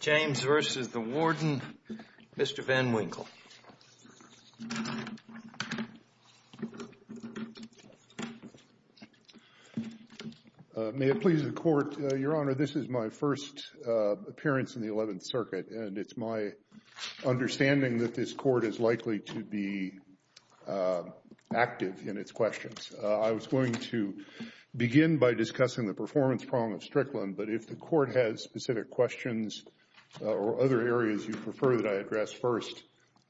James v. Warden, Mr. Van Winkle May it please the Court, Your Honor, this is my first appearance in the 11th Circuit, and it's my understanding that this Court is likely to be active in its questions. I was going to begin by discussing the performance problem of Strickland, but if the Court has specific questions or other areas you prefer that I address first,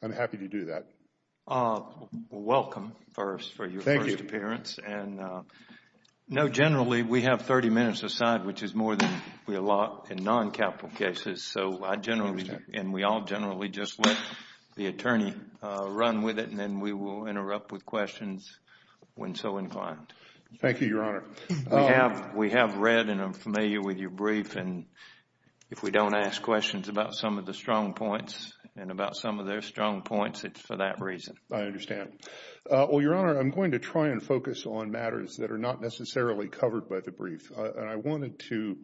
I'm happy to do that. Welcome, first, for your first appearance. Thank you. Generally, we have 30 minutes aside, which is more than we allot in non-capital cases. I understand. We all generally just let the attorney run with it, and then we will interrupt with questions when so inclined. Thank you, Your Honor. We have read and are familiar with your brief, and if we don't ask questions about some of the strong points and about some of their strong points, it's for that reason. I understand. Well, Your Honor, I'm going to try and focus on matters that are not necessarily covered by the brief. And I wanted to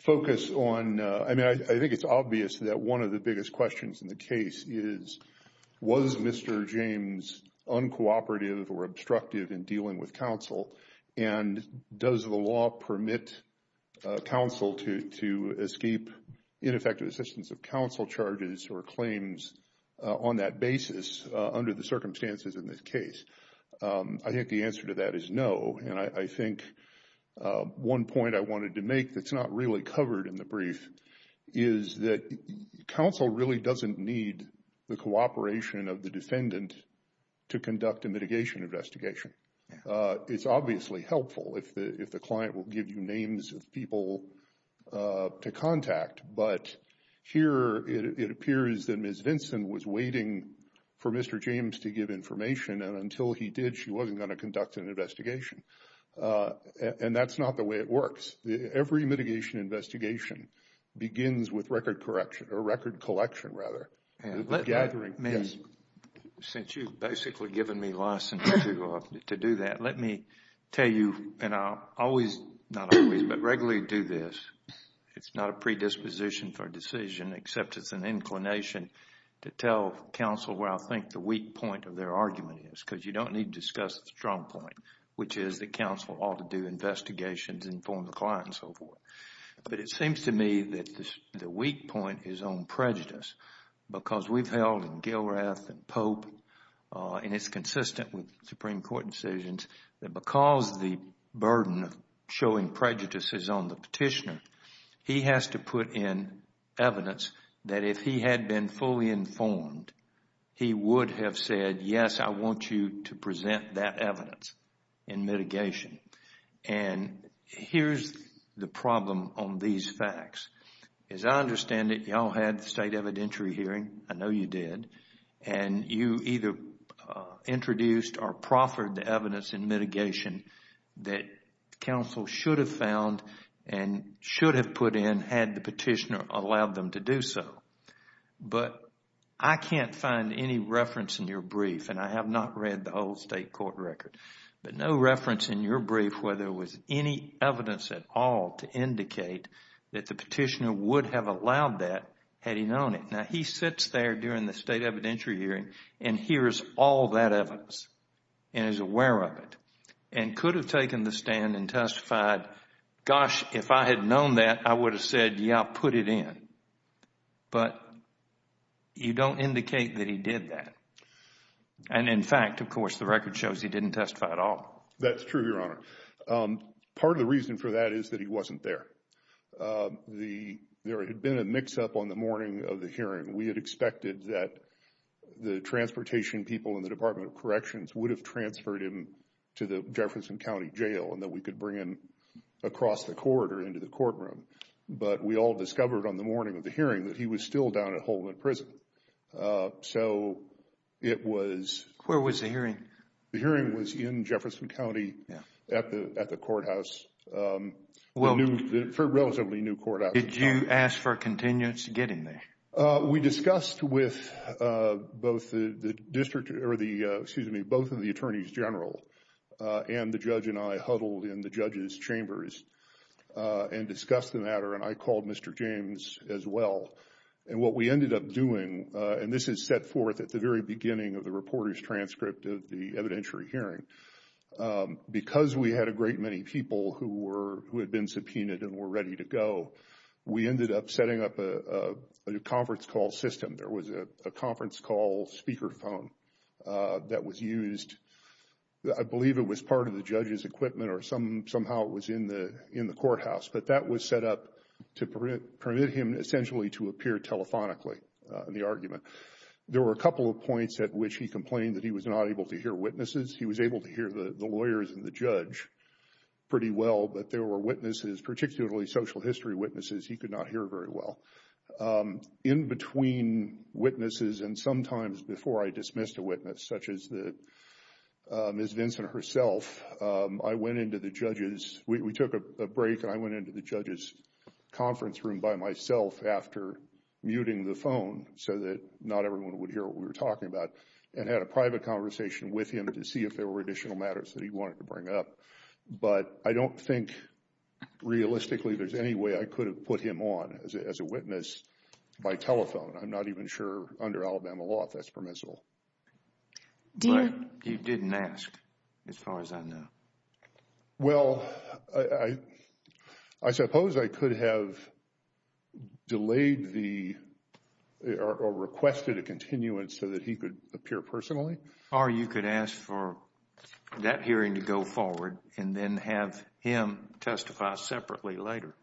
focus on, I mean, I think it's obvious that one of the biggest questions in the case is, was Mr. James uncooperative or obstructive in dealing with counsel? And does the law permit counsel to escape ineffective assistance of counsel charges or claims on that basis under the circumstances in this case? I think the answer to that is no. And I think one point I wanted to make that's not really covered in the brief is that counsel really doesn't need the cooperation of the defendant to conduct a mitigation investigation. It's obviously helpful if the client will give you names of people to contact, but here it appears that Ms. Vinson was waiting for Mr. James to give information, and until he did, she wasn't going to conduct an investigation. And that's not the way it works. Every mitigation investigation begins with record collection. Since you've basically given me license to do that, let me tell you, and I'll always, not always, but regularly do this. It's not a predisposition for a decision, except it's an inclination to tell counsel where I think the weak point of their argument is. Because you don't need to discuss the strong point, which is that counsel ought to do investigations, inform the client, and so forth. But it seems to me that the weak point is on prejudice. Because we've held in Gilrath and Pope, and it's consistent with Supreme Court decisions, that because the burden of showing prejudice is on the petitioner, he has to put in evidence that if he had been fully informed, he would have said, yes, I want you to present that evidence in mitigation. And here's the problem on these facts. As I understand it, you all had the state evidentiary hearing. I know you did. And you either introduced or proffered the evidence in mitigation that counsel should have found and should have put in had the petitioner allowed them to do so. But I can't find any reference in your brief, and I have not read the whole state court record. But no reference in your brief where there was any evidence at all to indicate that the petitioner would have allowed that had he known it. Now, he sits there during the state evidentiary hearing and hears all that evidence and is aware of it and could have taken the stand and testified, gosh, if I had known that, I would have said, yeah, put it in. But you don't indicate that he did that. And in fact, of course, the record shows he didn't testify at all. That's true, Your Honor. Part of the reason for that is that he wasn't there. There had been a mix-up on the morning of the hearing. We had expected that the transportation people in the Department of Corrections would have transferred him to the Jefferson County Jail and that we could bring him across the corridor into the courtroom. But we all discovered on the morning of the hearing that he was still down at Holman Prison. So it was… Where was the hearing? The hearing was in Jefferson County at the courthouse, a relatively new courthouse. Did you ask for a continuance to get him there? We discussed with both of the attorneys general, and the judge and I huddled in the judge's chambers and discussed the matter. And I called Mr. James as well. And what we ended up doing, and this is set forth at the very beginning of the reporter's transcript of the evidentiary hearing. Because we had a great many people who had been subpoenaed and were ready to go, we ended up setting up a conference call system. There was a conference call speakerphone that was used. I believe it was part of the judge's equipment or somehow it was in the courthouse. But that was set up to permit him essentially to appear telephonically in the argument. There were a couple of points at which he complained that he was not able to hear witnesses. He was able to hear the lawyers and the judge pretty well, but there were witnesses, particularly social history witnesses, he could not hear very well. In between witnesses and sometimes before I dismissed a witness, such as Ms. Vincent herself, I went into the judges. We took a break and I went into the judge's conference room by myself after muting the phone so that not everyone would hear what we were talking about. And had a private conversation with him to see if there were additional matters that he wanted to bring up. But I don't think realistically there's any way I could have put him on as a witness by telephone. I'm not even sure under Alabama law if that's permissible. But you didn't ask as far as I know. Well, I suppose I could have delayed or requested a continuance so that he could appear personally. Or you could ask for that hearing to go forward and then have him testify separately later.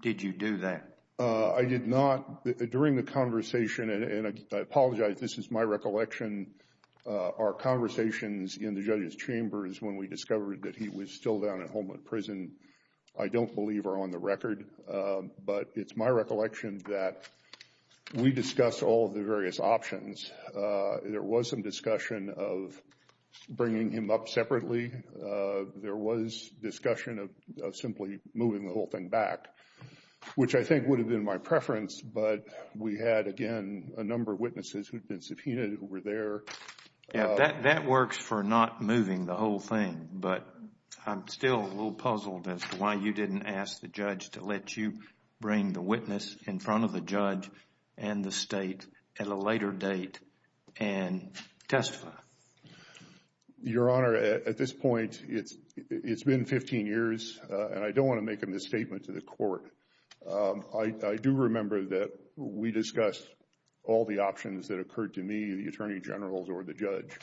Did you do that? I did not. During the conversation, and I apologize, this is my recollection, our conversations in the judges chambers when we discovered that he was still down at Holman Prison, I don't believe are on the record. But it's my recollection that we discussed all of the various options. There was some discussion of bringing him up separately. There was discussion of simply moving the whole thing back, which I think would have been my preference. But we had, again, a number of witnesses who had been subpoenaed who were there. That works for not moving the whole thing. But I'm still a little puzzled as to why you didn't ask the judge to let you bring the witness in front of the judge and the State at a later date and testify. Your Honor, at this point, it's been 15 years, and I don't want to make a misstatement to the court. I do remember that we discussed all the options that occurred to me, the Attorney General or the judge.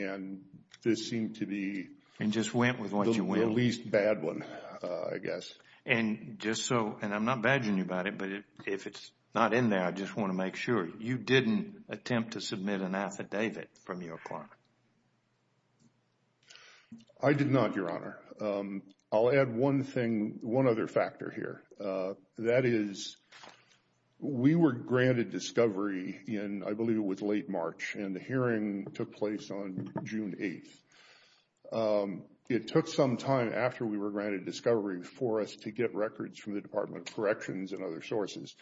And this seemed to be the least bad one, I guess. And I'm not badging you about it, but if it's not in there, I just want to make sure you didn't attempt to submit an affidavit from your client. I did not, Your Honor. I'll add one other factor here. That is, we were granted discovery in, I believe it was late March, and the hearing took place on June 8th. It took some time after we were granted discovery for us to get records from the Department of Corrections and other sources.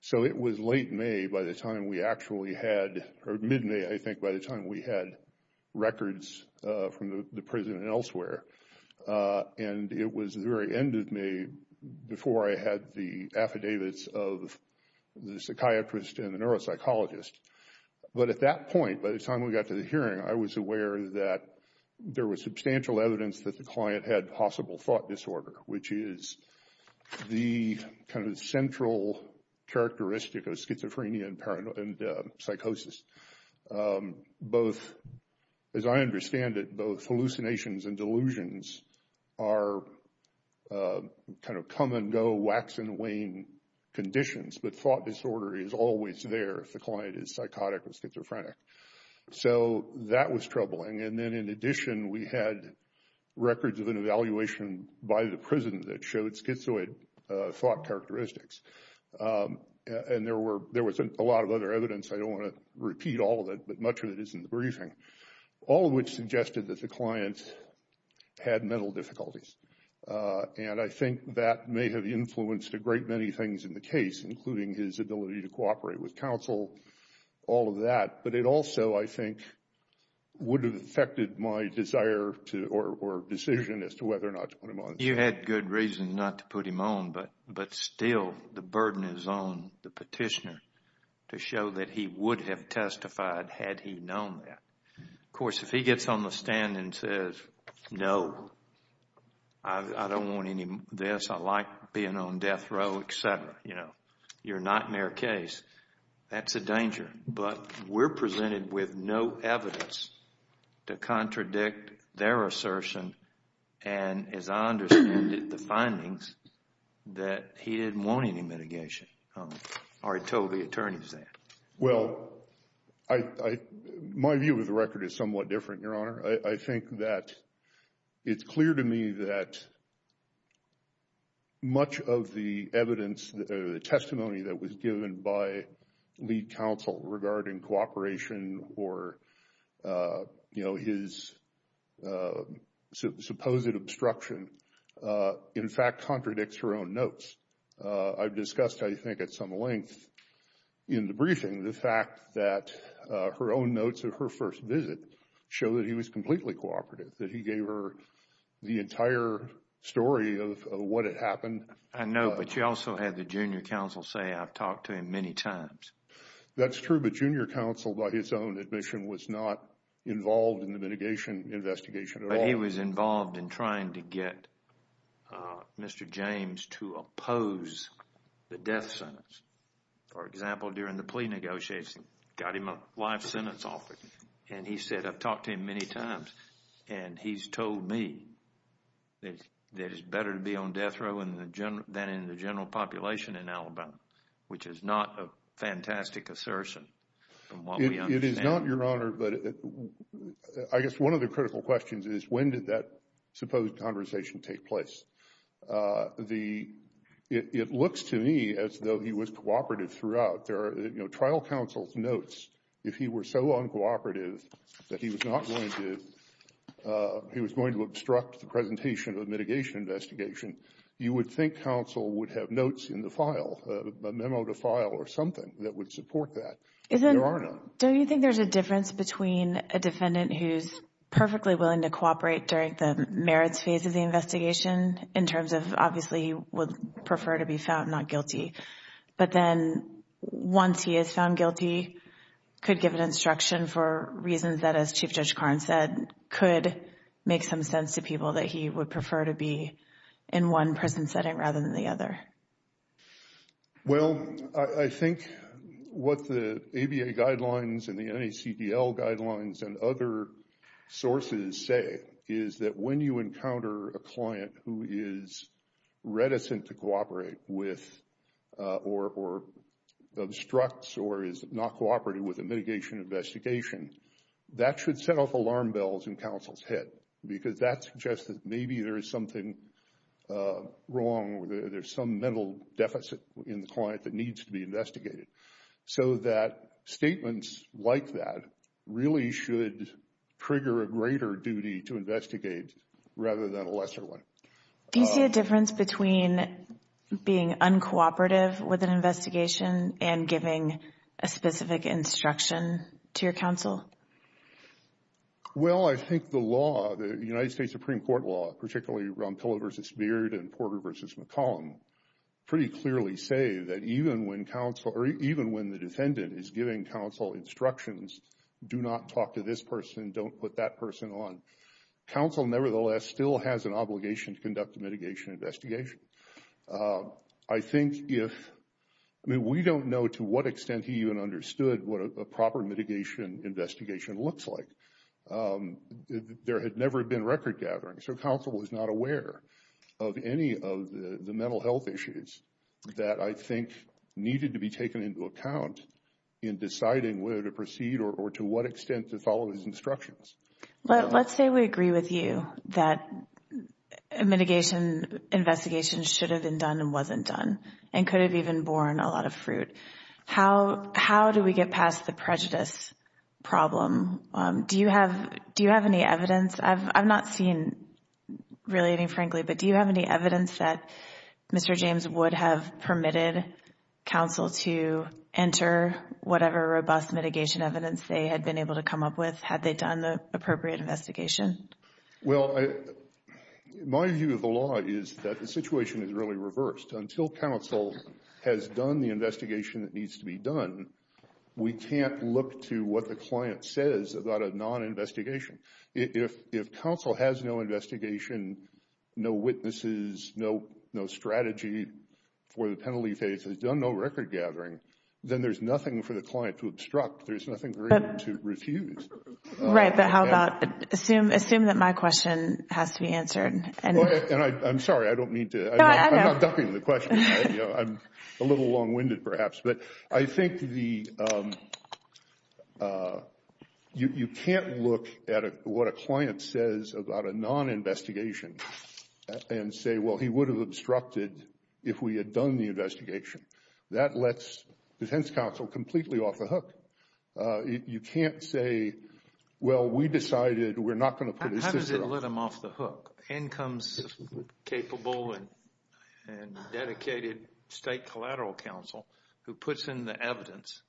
So it was late May by the time we actually had – or mid-May, I think, by the time we had records from the prison and elsewhere. And it was the very end of May before I had the affidavits of the psychiatrist and the neuropsychologist. But at that point, by the time we got to the hearing, I was aware that there was substantial evidence that the client had possible thought disorder, which is the kind of central characteristic of schizophrenia and psychosis. Both – as I understand it, both hallucinations and delusions are kind of come-and-go, wax-and-wane conditions. But thought disorder is always there if the client is psychotic or schizophrenic. So that was troubling. And then in addition, we had records of an evaluation by the prison that showed schizoid thought characteristics. And there was a lot of other evidence – I don't want to repeat all of it, but much of it is in the briefing – all of which suggested that the client had mental difficulties. And I think that may have influenced a great many things in the case, including his ability to cooperate with counsel, all of that. But it also, I think, would have affected my desire to – or decision as to whether or not to put him on. You had good reason not to put him on, but still the burden is on the petitioner to show that he would have testified had he known that. Of course, if he gets on the stand and says, no, I don't want any of this, I like being on death row, et cetera, you know, your nightmare case, that's a danger. But we're presented with no evidence to contradict their assertion and, as I understand it, the findings that he didn't want any mitigation or he told the attorneys that. Well, my view of the record is somewhat different, Your Honor. I think that it's clear to me that much of the evidence or the testimony that was given by lead counsel regarding cooperation or his supposed obstruction, in fact, contradicts her own notes. I've discussed, I think, at some length in the briefing the fact that her own notes of her first visit show that he was completely cooperative, that he gave her the entire story of what had happened. I know, but you also had the junior counsel say, I've talked to him many times. That's true, but junior counsel, by his own admission, was not involved in the mitigation investigation at all. But he was involved in trying to get Mr. James to oppose the death sentence. For example, during the plea negotiations, got him a life sentence offer, and he said, I've talked to him many times, and he's told me that it's better to be on death row than in the general population in Alabama, which is not a fantastic assertion from what we understand. It is not, Your Honor, but I guess one of the critical questions is when did that supposed conversation take place? It looks to me as though he was cooperative throughout. Trial counsel's notes, if he were so uncooperative that he was going to obstruct the presentation of the mitigation investigation, you would think counsel would have notes in the file, a memo to file or something that would support that. Your Honor. Don't you think there's a difference between a defendant who's perfectly willing to cooperate during the merits phase of the investigation in terms of obviously would prefer to be found not guilty, but then once he is found guilty, could give an instruction for reasons that, as Chief Judge Karn said, could make some sense to people that he would prefer to be in one prison setting rather than the other? Well, I think what the ABA guidelines and the NACDL guidelines and other sources say is that when you encounter a client who is reticent to cooperate with or obstructs or is not cooperative with a mitigation investigation, that should set off alarm bells in counsel's head because that suggests that maybe there is something wrong or there's some mental deficit in the client that needs to be investigated. So that statements like that really should trigger a greater duty to investigate rather than a lesser one. Do you see a difference between being uncooperative with an investigation and giving a specific instruction to your counsel? Well, I think the law, the United States Supreme Court law, particularly Ron Pillow v. Beard and Porter v. McCollum, pretty clearly say that even when counsel or even when the defendant is giving counsel instructions, do not talk to this person, don't put that person on, counsel nevertheless still has an obligation to conduct a mitigation investigation. I think if, I mean, we don't know to what extent he even understood what a proper mitigation investigation looks like. There had never been record gathering, so counsel was not aware of any of the mental health issues that I think needed to be taken into account in deciding whether to proceed or to what extent to follow his instructions. Let's say we agree with you that a mitigation investigation should have been done and wasn't done and could have even borne a lot of fruit. How do we get past the prejudice problem? Do you have any evidence? I've not seen really any, frankly, but do you have any evidence that Mr. James would have permitted counsel to enter whatever robust mitigation evidence they had been able to come up with had they done the appropriate investigation? Well, my view of the law is that the situation is really reversed. Until counsel has done the investigation that needs to be done, we can't look to what the client says about a non-investigation. If counsel has no investigation, no witnesses, no strategy for the penalty case, has done no record gathering, then there's nothing for the client to obstruct. There's nothing for him to refuse. Right, but how about assume that my question has to be answered. I'm sorry, I don't mean to. I'm not dumping the question. I'm a little long-winded perhaps, but I think you can't look at what a client says about a non-investigation and say, well, he would have obstructed if we had done the investigation. That lets defense counsel completely off the hook. You can't say, well, we decided we're not going to put his sister up. How does it let them off the hook? In comes capable and dedicated state collateral counsel who puts in the evidence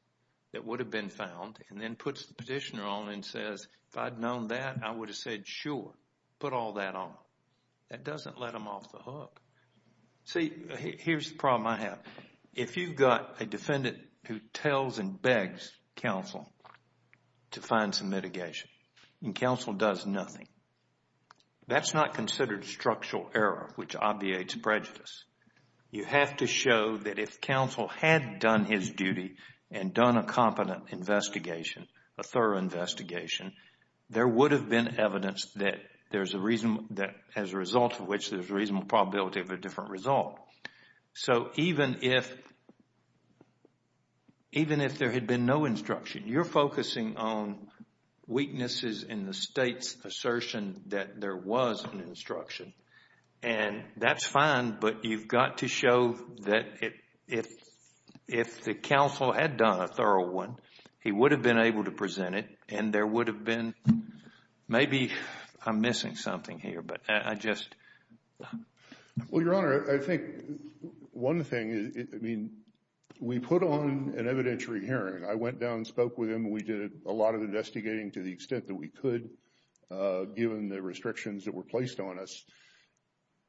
that would have been found and then puts the petitioner on and says, if I'd known that, I would have said, sure, put all that on. That doesn't let them off the hook. See, here's the problem I have. If you've got a defendant who tells and begs counsel to find some mitigation and counsel does nothing, that's not considered structural error, which obviates prejudice. You have to show that if counsel had done his duty and done a competent investigation, a thorough investigation, there would have been evidence that as a result of which there's a reasonable probability of a different result. So even if there had been no instruction, you're focusing on weaknesses in the state's assertion that there was an instruction. And that's fine, but you've got to show that if the counsel had done a thorough one, he would have been able to present it and there would have been, maybe I'm missing something here, but I just. Well, Your Honor, I think one thing is, I mean, we put on an evidentiary hearing. I went down and spoke with him. We did a lot of investigating to the extent that we could, given the restrictions that were placed on us.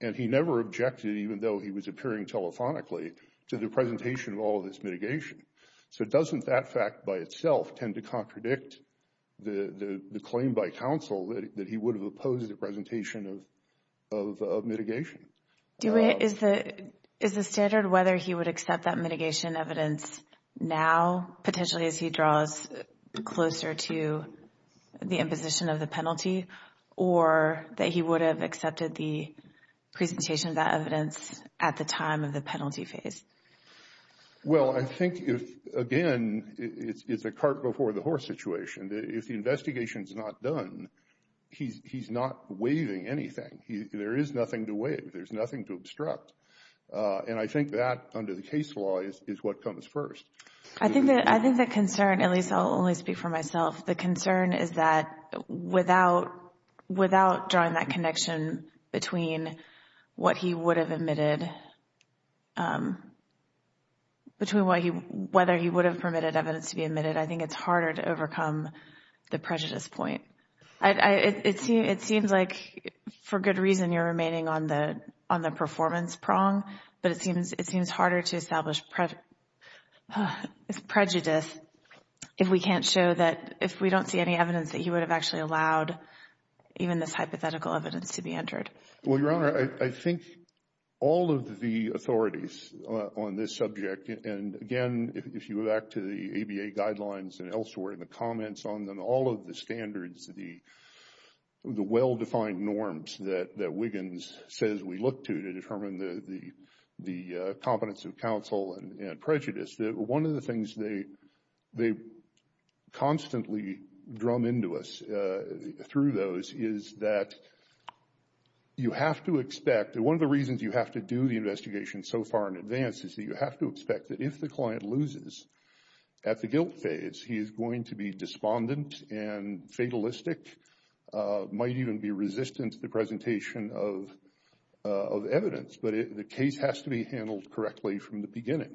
And he never objected, even though he was appearing telephonically, to the presentation of all this mitigation. So doesn't that fact by itself tend to contradict the claim by counsel that he would have opposed the presentation of mitigation? Is the standard whether he would accept that mitigation evidence now, potentially as he draws closer to the imposition of the penalty, or that he would have accepted the presentation of that evidence at the time of the penalty phase? Well, I think, again, it's a cart before the horse situation. If the investigation is not done, he's not waiving anything. There is nothing to waive. There's nothing to obstruct. And I think that, under the case law, is what comes first. I think the concern, at least I'll only speak for myself, the concern is that without drawing that connection between what he would have admitted, between whether he would have permitted evidence to be admitted, I think it's harder to overcome the prejudice point. It seems like, for good reason, you're remaining on the performance prong, but it seems harder to establish prejudice if we don't see any evidence that he would have actually allowed even this hypothetical evidence to be entered. Well, Your Honor, I think all of the authorities on this subject, and again, if you go back to the ABA guidelines and elsewhere and the comments on them, all of the standards, the well-defined norms that Wiggins says we look to to determine the competence of counsel and prejudice, one of the things they constantly drum into us through those is that you have to expect, and one of the reasons you have to do the investigation so far in advance is that you have to expect that if the client loses at the guilt phase, he is going to be despondent and fatalistic, might even be resistant to the presentation of evidence, but the case has to be handled correctly from the beginning.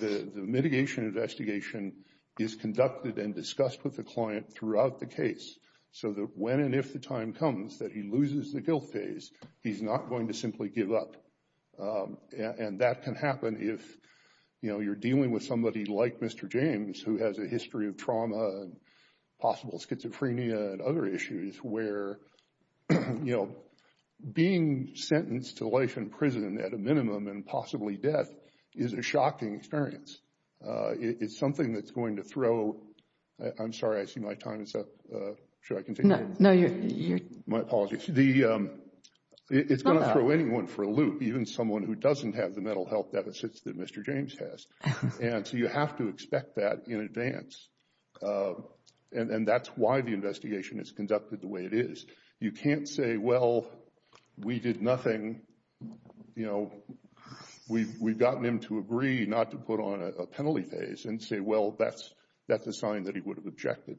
The mitigation investigation is conducted and discussed with the client throughout the case so that when and if the time comes that he loses the guilt phase, he's not going to simply give up, and that can happen if you're dealing with somebody like Mr. James, who has a history of trauma and possible schizophrenia and other issues where being sentenced to life in prison at a minimum and possibly death is a shocking experience. It's something that's going to throw—I'm sorry, I see my time is up. Should I continue? My apologies. It's going to throw anyone for a loop, even someone who doesn't have the mental health deficits that Mr. James has, and so you have to expect that in advance, and that's why the investigation is conducted the way it is. You can't say, well, we did nothing. We've gotten him to agree not to put on a penalty phase and say, well, that's a sign that he would have objected.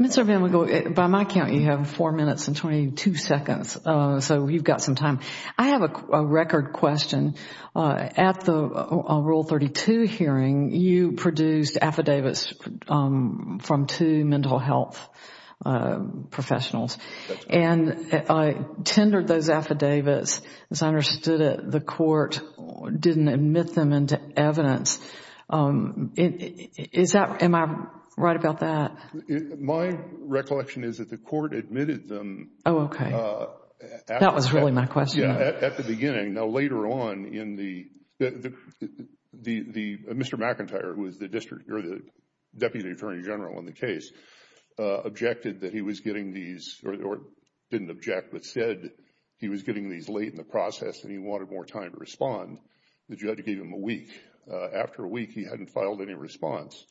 Mr. VanWinkle, by my count, you have four minutes and 22 seconds, so you've got some time. I have a record question. At the Rule 32 hearing, you produced affidavits from two mental health professionals and tendered those affidavits. As I understood it, the court didn't admit them into evidence. Am I right about that? My recollection is that the court admitted them. Oh, okay. That was really my question. At the beginning. Now, later on, Mr. McIntyre, who is the Deputy Attorney General on the case, objected that he was getting these, or didn't object but said he was getting these late in the process and he wanted more time to respond. The judge gave him a week. After a week, he hadn't filed any response.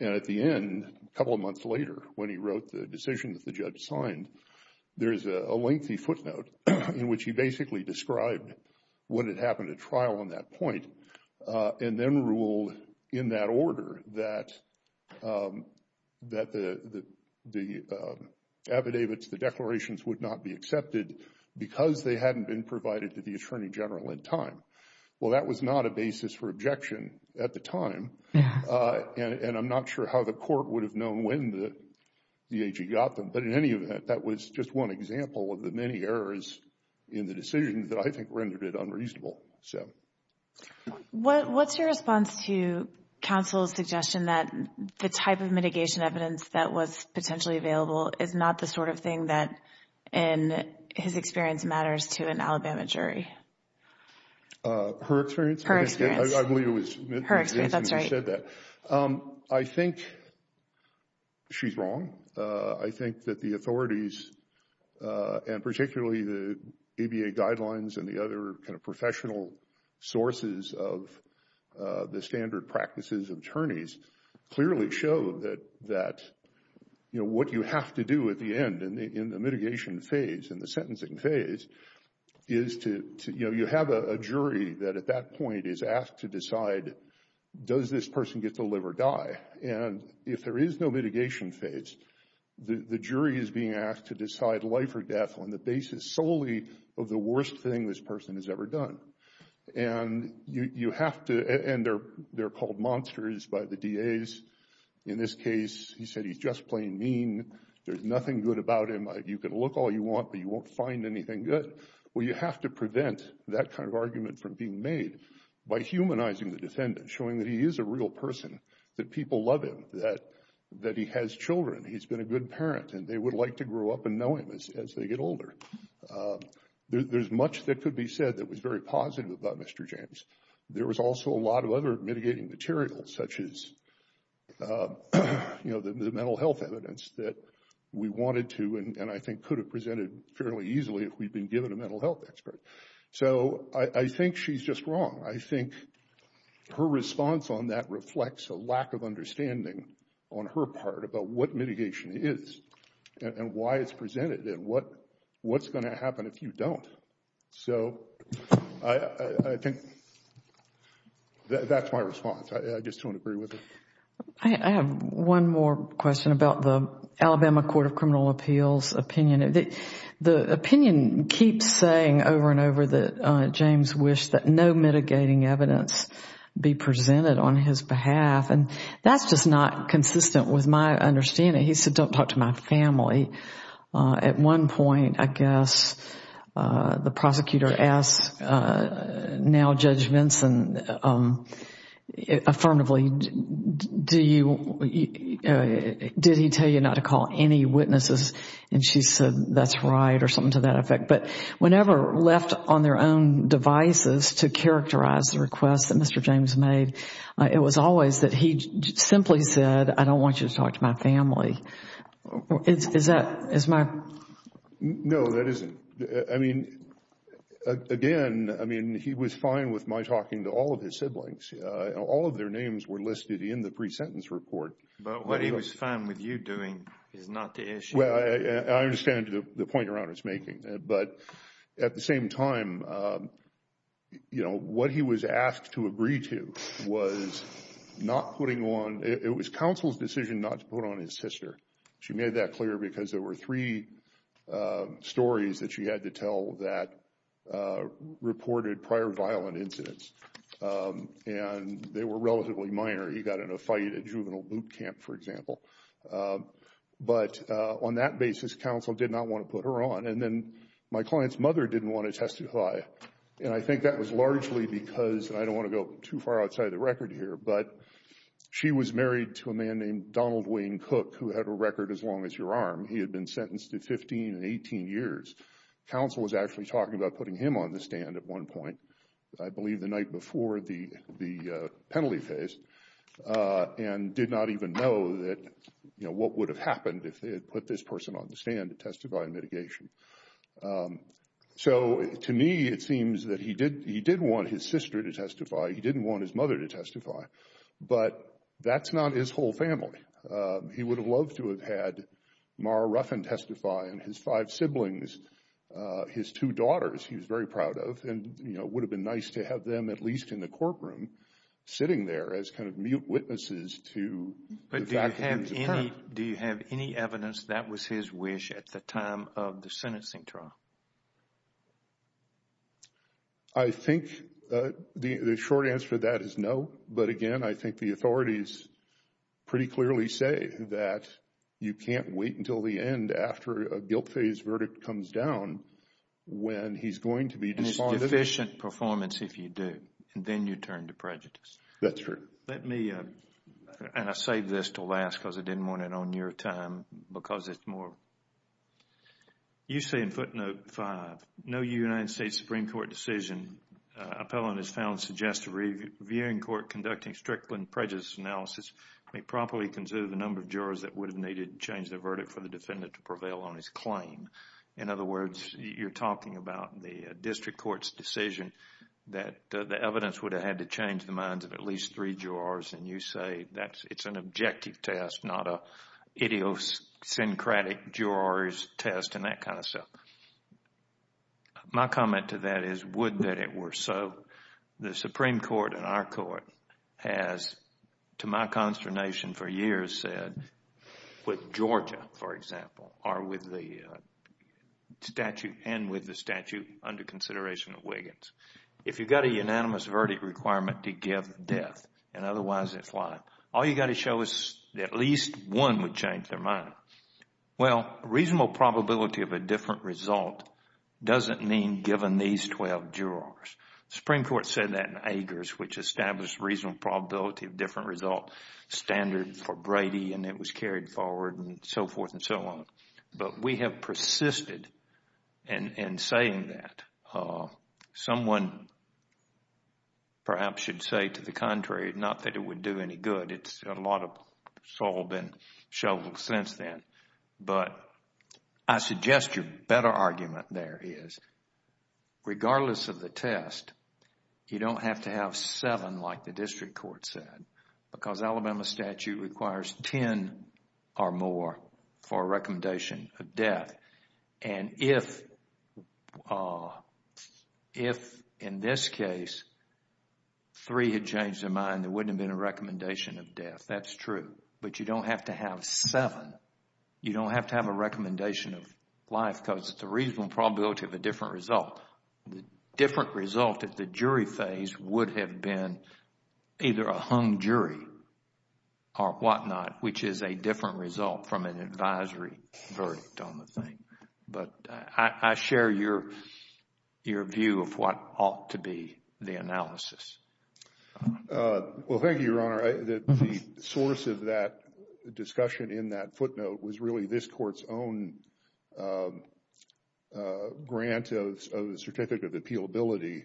And at the end, a couple of months later, when he wrote the decision that the judge signed, there's a lengthy footnote in which he basically described what had happened at trial on that point and then ruled in that order that the affidavits, the declarations, would not be accepted because they hadn't been provided to the Attorney General in time. Well, that was not a basis for objection at the time, and I'm not sure how the court would have known when the AG got them. But in any event, that was just one example of the many errors in the decision that I think rendered it unreasonable. What's your response to counsel's suggestion that the type of mitigation evidence that was potentially available is not the sort of thing that, in his experience, matters to an Alabama jury? Her experience? Her experience. I believe it was Ms. Jensen who said that. I think she's wrong. I think that the authorities, and particularly the ABA guidelines and the other professional sources of the standard practices of attorneys, clearly show that what you have to do at the end in the mitigation phase, in the sentencing phase, is you have a jury that at that point is asked to decide, does this person get to live or die? And if there is no mitigation phase, the jury is being asked to decide life or death on the basis solely of the worst thing this person has ever done. And you have to, and they're called monsters by the DAs. In this case, he said he's just plain mean. There's nothing good about him. You can look all you want, but you won't find anything good. Well, you have to prevent that kind of argument from being made by humanizing the defendant, showing that he is a real person, that people love him, that he has children, he's been a good parent, and they would like to grow up and know him as they get older. There's much that could be said that was very positive about Mr. James. There was also a lot of other mitigating material such as the mental health evidence that we wanted to and I think could have presented fairly easily if we'd been given a mental health expert. So I think she's just wrong. I think her response on that reflects a lack of understanding on her part about what mitigation is and why it's presented and what's going to happen if you don't. So I think that's my response. I just don't agree with it. I have one more question about the Alabama Court of Criminal Appeals opinion. The opinion keeps saying over and over that James wished that no mitigating evidence be presented on his behalf and that's just not consistent with my understanding. He said, don't talk to my family. At one point, I guess, the prosecutor asked now Judge Vinson affirmatively, did he tell you not to call any witnesses? And she said, that's right, or something to that effect. But whenever left on their own devices to characterize the request that Mr. James made, it was always that he simply said, I don't want you to talk to my family. Is that? No, that isn't. I mean, again, he was fine with my talking to all of his siblings. All of their names were listed in the pre-sentence report. But what he was fine with you doing is not the issue. Well, I understand the point Your Honor is making. But at the same time, you know, what he was asked to agree to was not putting on, it was counsel's decision not to put on his sister. She made that clear because there were three stories that she had to tell that reported prior violent incidents. And they were relatively minor. He got in a fight at juvenile boot camp, for example. But on that basis, counsel did not want to put her on. And then my client's mother didn't want to testify. And I think that was largely because, and I don't want to go too far outside the record here, but she was married to a man named Donald Wayne Cook, who had a record as long as your arm. He had been sentenced to 15 and 18 years. Counsel was actually talking about putting him on the stand at one point. I believe the night before the penalty phase and did not even know that, you know, what would have happened if they had put this person on the stand to testify in mitigation. So, to me, it seems that he did want his sister to testify. He didn't want his mother to testify. But that's not his whole family. He would have loved to have had Mara Ruffin testify and his five siblings, his two daughters, he was very proud of. And, you know, it would have been nice to have them at least in the courtroom sitting there as kind of mute witnesses to the fact that he was a parent. But do you have any evidence that was his wish at the time of the sentencing trial? I think the short answer to that is no. But, again, I think the authorities pretty clearly say that you can't wait until the end after a guilt phase verdict comes down when he's going to be disbonded. And it's deficient performance if you do. And then you turn to prejudice. That's true. Let me, and I'll save this till last because I didn't want it on your time because it's more. You say in footnote five, no United States Supreme Court decision, appellant is found suggest a reviewing court conducting strictly in prejudice analysis may properly consider the number of jurors that would have needed to change their verdict in order for the defendant to prevail on his claim. In other words, you're talking about the district court's decision that the evidence would have had to change the minds of at least three jurors and you say it's an objective test, not an idiosyncratic jurors test and that kind of stuff. My comment to that is would that it were so. The Supreme Court in our court has, to my consternation for years, said with Georgia, for example, and with the statute under consideration of Wiggins, if you've got a unanimous verdict requirement to give death and otherwise it's life, all you've got to show is at least one would change their mind. Well, reasonable probability of a different result doesn't mean given these 12 jurors. The Supreme Court said that in Agers, which established reasonable probability of different result standard for Brady and it was carried forward and so forth and so on. But we have persisted in saying that. Someone perhaps should say to the contrary, not that it would do any good. A lot of salt has been shoveled since then. But I suggest your better argument there is regardless of the test, you don't have to have seven like the district court said because Alabama statute requires ten or more for a recommendation of death. And if in this case three had changed their mind, there wouldn't have been a recommendation of death. That's true. But you don't have to have seven. You don't have to have a recommendation of life because it's a reasonable probability of a different result. The different result at the jury phase would have been either a hung jury or whatnot, which is a different result from an advisory verdict on the thing. But I share your view of what ought to be the analysis. Well, thank you, Your Honor. The source of that discussion in that footnote was really this court's own grant of the certificate of appealability,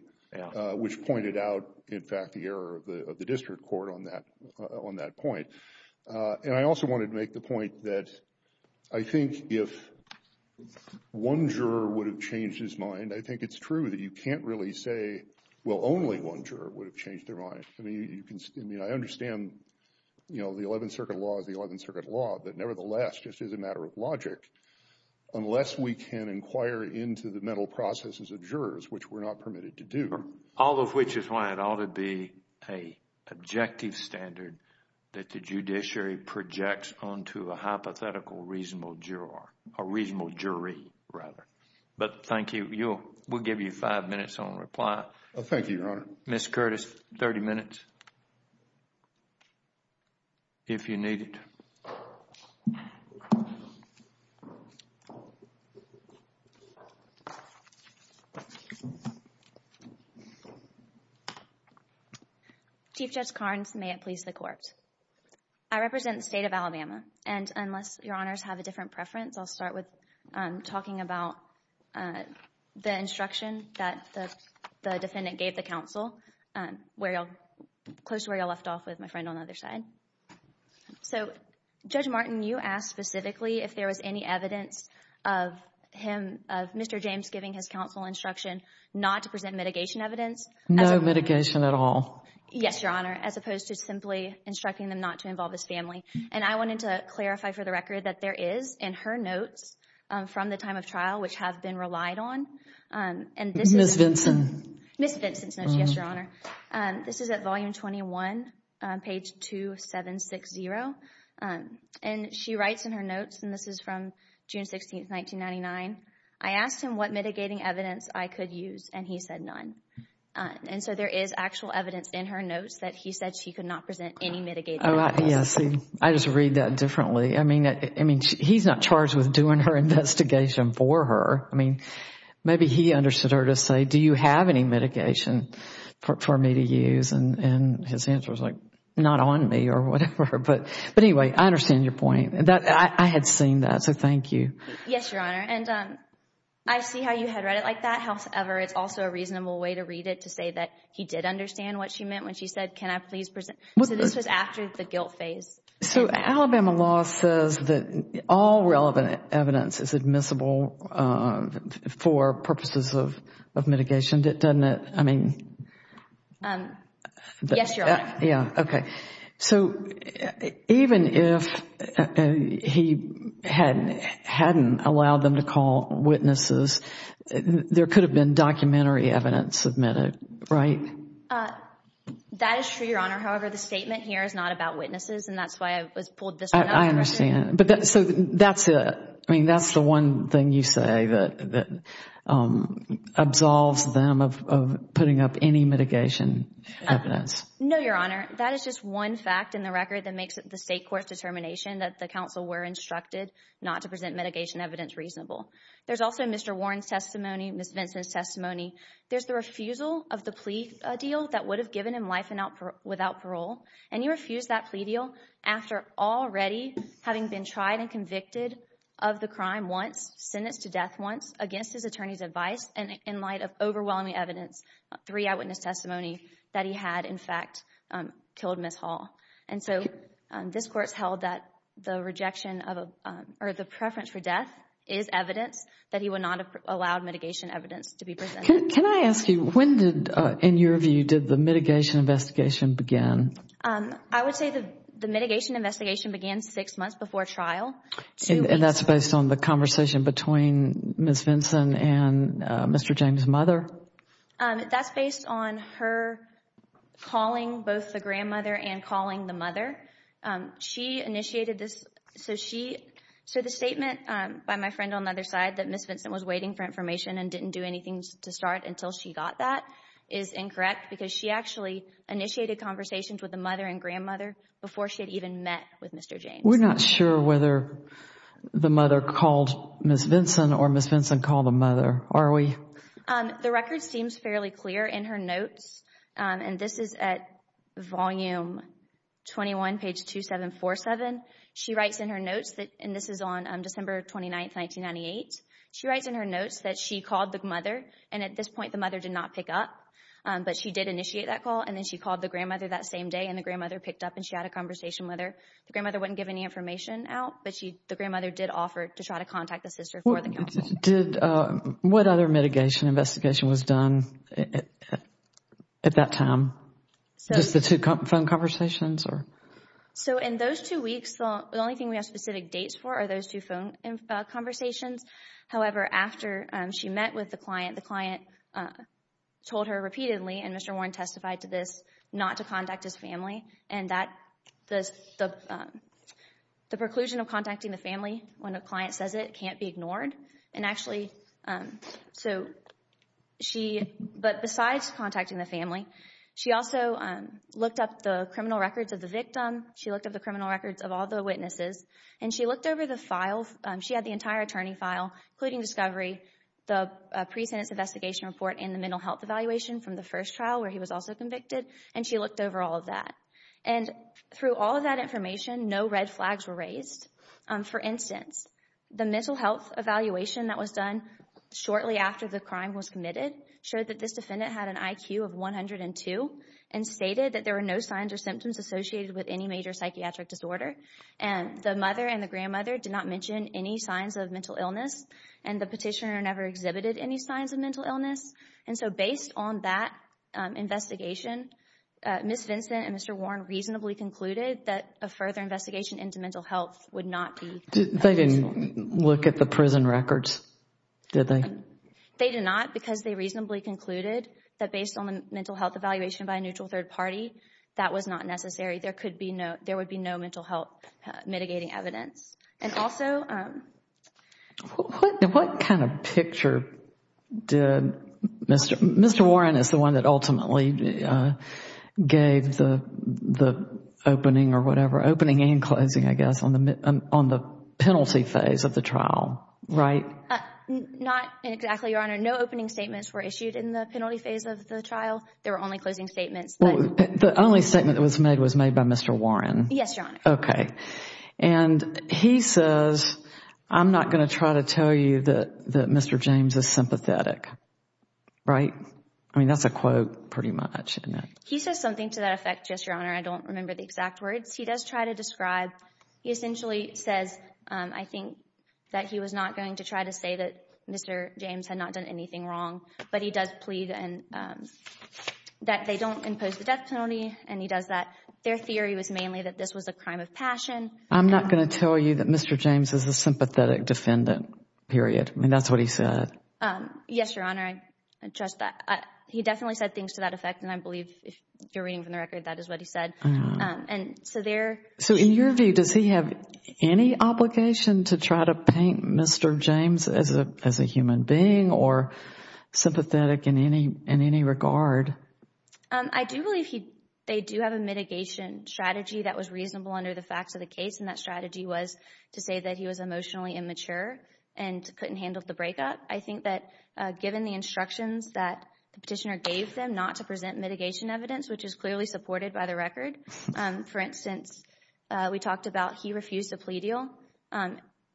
which pointed out in fact the error of the district court on that point. And I also wanted to make the point that I think if one juror would have changed his mind, I think it's true that you can't really say, well, only one juror would have changed their mind. I understand the Eleventh Circuit law is the Eleventh Circuit law, but nevertheless, just as a matter of logic, unless we can inquire into the mental processes of jurors, which we're not permitted to do. All of which is why it ought to be a objective standard that the judiciary projects onto a hypothetical reasonable juror, a reasonable jury, rather. But thank you. We'll give you five minutes on reply. Thank you, Your Honor. Ms. Curtis, 30 minutes, if you need it. Chief Judge Carnes, may it please the Court. I represent the state of Alabama, and unless Your Honors have a different preference, I'll start with talking about the instruction that the defendant gave the counsel, close to where you left off with my friend on the other side. So, Judge Martin, you asked specifically if there was any evidence of him, of Mr. James giving his counsel instruction not to present mitigation evidence. No mitigation at all. Yes, Your Honor, as opposed to simply instructing them not to involve his family. And I wanted to clarify for the record that there is in her notes from the time of trial, which have been relied on. Ms. Vinson. Ms. Vinson's notes, yes, Your Honor. This is at volume 21, page 2760. And she writes in her notes, and this is from June 16, 1999. I asked him what mitigating evidence I could use, and he said none. And so there is actual evidence in her notes that he said she could not present any mitigating evidence. Yes, I just read that differently. I mean, he's not charged with doing her investigation for her. I mean, maybe he understood her to say, do you have any mitigation for me to use? And his answer was like, not on me or whatever. But anyway, I understand your point. I had seen that, so thank you. Yes, Your Honor. And I see how you had read it like that. However, it's also a reasonable way to read it to say that he did understand what she meant when she said, can I please present. So this was after the guilt phase. So Alabama law says that all relevant evidence is admissible for purposes of mitigation, doesn't it? Yes, Your Honor. Yeah, okay. So even if he hadn't allowed them to call witnesses, there could have been documentary evidence submitted, right? That is true, Your Honor. However, the statement here is not about witnesses, and that's why I pulled this one up. I understand. So that's it. I mean, that's the one thing you say that absolves them of putting up any mitigation evidence. No, Your Honor. That is just one fact in the record that makes it the state court's determination that the counsel were instructed not to present mitigation evidence reasonable. There's also Mr. Warren's testimony, Ms. Vinson's testimony. There's the refusal of the plea deal that would have given him life without parole, and he refused that plea deal after already having been tried and convicted of the crime once, sentenced to death once, against his attorney's advice, and in light of overwhelming evidence, three eyewitness testimony, that he had, in fact, killed Ms. Hall. And so this Court's held that the rejection or the preference for death is evidence that he would not have allowed mitigation evidence to be presented. Can I ask you, when did, in your view, did the mitigation investigation begin? I would say the mitigation investigation began six months before trial. And that's based on the conversation between Ms. Vinson and Mr. James' mother? That's based on her calling both the grandmother and calling the mother. She initiated this. So the statement by my friend on the other side that Ms. Vinson was waiting for information and didn't do anything to start until she got that is incorrect because she actually initiated conversations with the mother and grandmother before she had even met with Mr. James. We're not sure whether the mother called Ms. Vinson or Ms. Vinson called the mother, are we? The record seems fairly clear in her notes. And this is at volume 21, page 2747. She writes in her notes, and this is on December 29, 1998. She writes in her notes that she called the mother, and at this point the mother did not pick up. But she did initiate that call, and then she called the grandmother that same day, and the grandmother picked up, and she had a conversation with her. The grandmother wouldn't give any information out, but the grandmother did offer to try to contact the sister for the counseling. What other mitigation investigation was done at that time? Just the two phone conversations? So in those two weeks, the only thing we have specific dates for are those two phone conversations. However, after she met with the client, the client told her repeatedly, and Mr. Warren testified to this, not to contact his family, and the preclusion of contacting the family when a client says it can't be ignored. But besides contacting the family, she also looked up the criminal records of the victim. She looked up the criminal records of all the witnesses, and she looked over the files. She had the entire attorney file, including discovery, the pre-sentence investigation report, and the mental health evaluation from the first trial where he was also convicted, and she looked over all of that. And through all of that information, no red flags were raised. For instance, the mental health evaluation that was done shortly after the crime was committed showed that this defendant had an IQ of 102 and stated that there were no signs or symptoms associated with any major psychiatric disorder. The mother and the grandmother did not mention any signs of mental illness, and the petitioner never exhibited any signs of mental illness. And so based on that investigation, Ms. Vincent and Mr. Warren reasonably concluded that a further investigation into mental health would not be necessary. They didn't look at the prison records, did they? They did not because they reasonably concluded that based on the mental health evaluation by a neutral third party, that was not necessary. There would be no mental health mitigating evidence. And also... What kind of picture did Mr. Warren, as the one that ultimately gave the opening or whatever, opening and closing, I guess, on the penalty phase of the trial, right? Not exactly, Your Honor. No opening statements were issued in the penalty phase of the trial. There were only closing statements. The only statement that was made was made by Mr. Warren. Yes, Your Honor. Okay. And he says, I'm not going to try to tell you that Mr. James is sympathetic. Right? I mean, that's a quote pretty much, isn't it? He says something to that effect, Yes, Your Honor. I don't remember the exact words. He does try to describe, he essentially says, I think, that he was not going to try to say that Mr. James had not done anything wrong. But he does plead that they don't impose the death penalty, and he does that. Their theory was mainly that this was a crime of passion. I'm not going to tell you that Mr. James is a sympathetic defendant, period. I mean, that's what he said. Yes, Your Honor. I trust that. He definitely said things to that effect, and I believe, if you're reading from the record, that is what he said. And so there... So in your view, does he have any obligation to try to paint Mr. James as a human being or sympathetic in any regard? I do believe they do have a mitigation strategy that was reasonable under the facts of the case, and that strategy was to say that he was emotionally immature and couldn't handle the breakup. I think that given the instructions that the petitioner gave them not to present mitigation evidence, which is clearly supported by the record. For instance, we talked about he refused a plea deal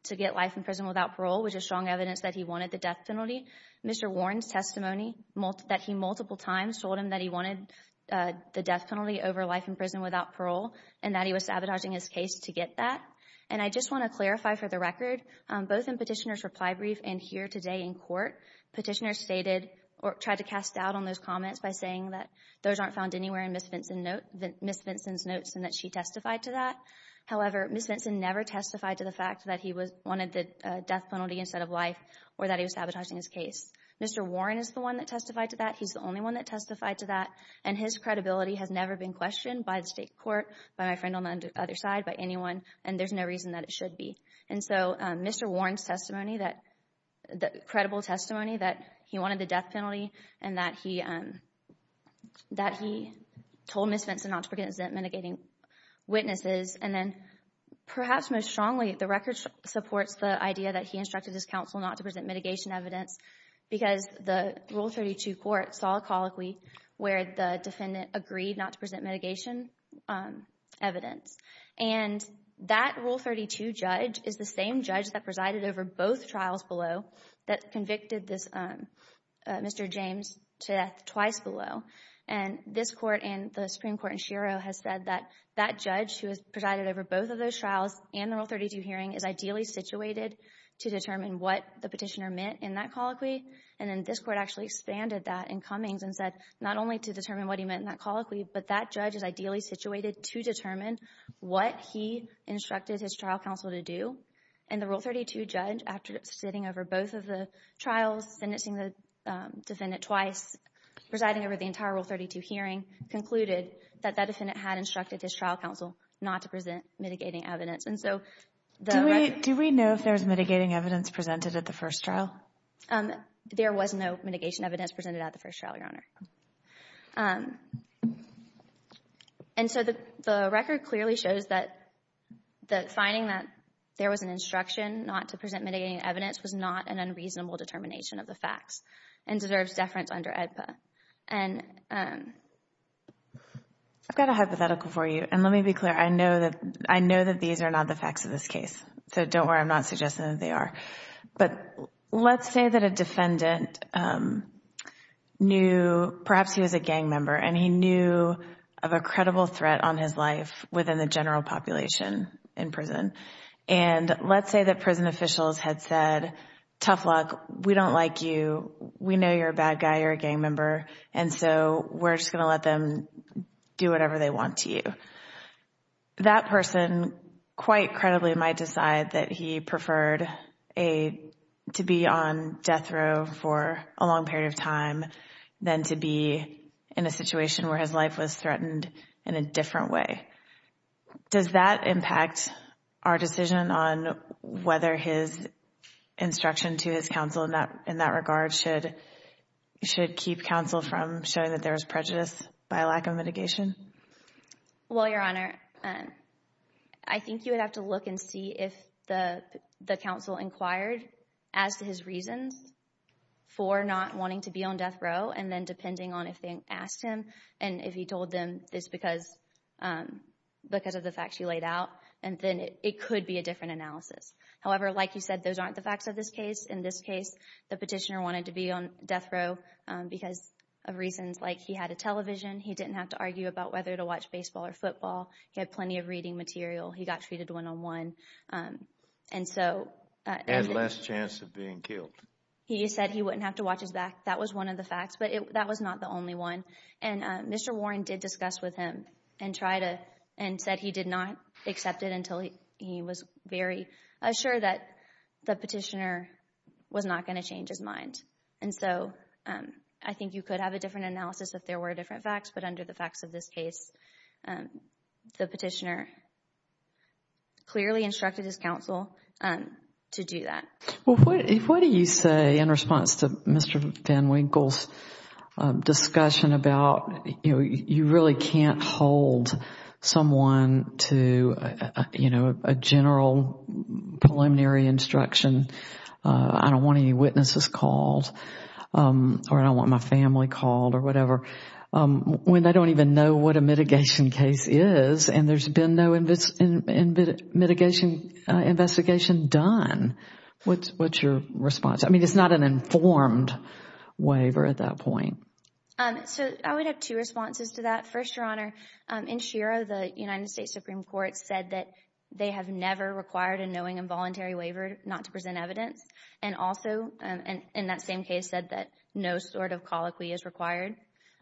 to get life in prison without parole, which is strong evidence that he wanted the death penalty. Mr. Warren's testimony that he multiple times told him that he wanted the death penalty over life in prison without parole and that he was sabotaging his case to get that. And I just want to clarify for the record, both in Petitioner's reply brief and here today in court, Petitioner stated or tried to cast doubt on those comments by saying that those aren't found anywhere in Ms. Vinson's notes and that she testified to that. However, Ms. Vinson never testified to the fact that he wanted the death penalty instead of life or that he was sabotaging his case. Mr. Warren is the one that testified to that. He's the only one that testified to that. And his credibility has never been questioned by the state court, by my friend on the other side, by anyone, and there's no reason that it should be. And so Mr. Warren's testimony, the credible testimony that he wanted the death penalty and that he told Ms. Vinson not to present mitigating witnesses, and then perhaps most strongly the record supports the idea that he instructed his counsel not to present mitigation evidence because the Rule 32 court saw a colloquy where the defendant agreed not to present mitigation evidence. And that Rule 32 judge is the same judge that presided over both trials below that convicted Mr. James to death twice below. And this court and the Supreme Court in Shiro has said that that judge who has presided over both of those trials and the Rule 32 hearing is ideally situated to determine what the petitioner meant in that colloquy. And then this court actually expanded that in Cummings and said not only to determine what he meant in that colloquy, but that judge is ideally situated to determine what he instructed his trial counsel to do. And the Rule 32 judge, after sitting over both of the trials, sentencing the defendant twice, presiding over the entire Rule 32 hearing, concluded that that defendant had instructed his trial counsel not to present mitigating evidence. And so the record – Do we know if there was mitigating evidence presented at the first trial? There was no mitigation evidence presented at the first trial, Your Honor. And so the record clearly shows that the finding that there was an instruction not to present mitigating evidence was not an unreasonable determination of the facts and deserves deference under AEDPA. I've got a hypothetical for you, and let me be clear. I know that these are not the facts of this case, so don't worry. I'm not suggesting that they are. But let's say that a defendant knew – perhaps he was a gang member – and he knew of a credible threat on his life within the general population in prison. And let's say that prison officials had said, tough luck, we don't like you, we know you're a bad guy, you're a gang member, and so we're just going to let them do whatever they want to you. That person quite credibly might decide that he preferred to be on death row for a long period of time than to be in a situation where his life was threatened in a different way. Does that impact our decision on whether his instruction to his counsel in that regard should keep counsel from showing that there was prejudice by lack of mitigation? Well, Your Honor, I think you would have to look and see if the counsel inquired as to his reasons for not wanting to be on death row, and then depending on if they asked him and if he told them it's because of the facts he laid out, and then it could be a different analysis. However, like you said, those aren't the facts of this case. In this case, the petitioner wanted to be on death row because of reasons like he had a television, he didn't have to argue about whether to watch baseball or football, he had plenty of reading material, he got treated one-on-one, and so – And less chance of being killed. He said he wouldn't have to watch his back. That was one of the facts, but that was not the only one. And Mr. Warren did discuss with him and try to – and said he did not accept it until he was very assured that the petitioner was not going to change his mind. And so I think you could have a different analysis if there were different facts, but under the facts of this case, the petitioner clearly instructed his counsel to do that. Well, what do you say in response to Mr. VanWinkle's discussion about, you know, you really can't hold someone to, you know, a general preliminary instruction, I don't want any witnesses called or I don't want my family called or whatever, when they don't even know what a mitigation case is and there's been no mitigation investigation done? What's your response? I mean, it's not an informed waiver at that point. So I would have two responses to that. First, Your Honor, in Shiro, the United States Supreme Court said that they have never required a knowing involuntary waiver not to present evidence and also in that same case said that no sort of colloquy is required.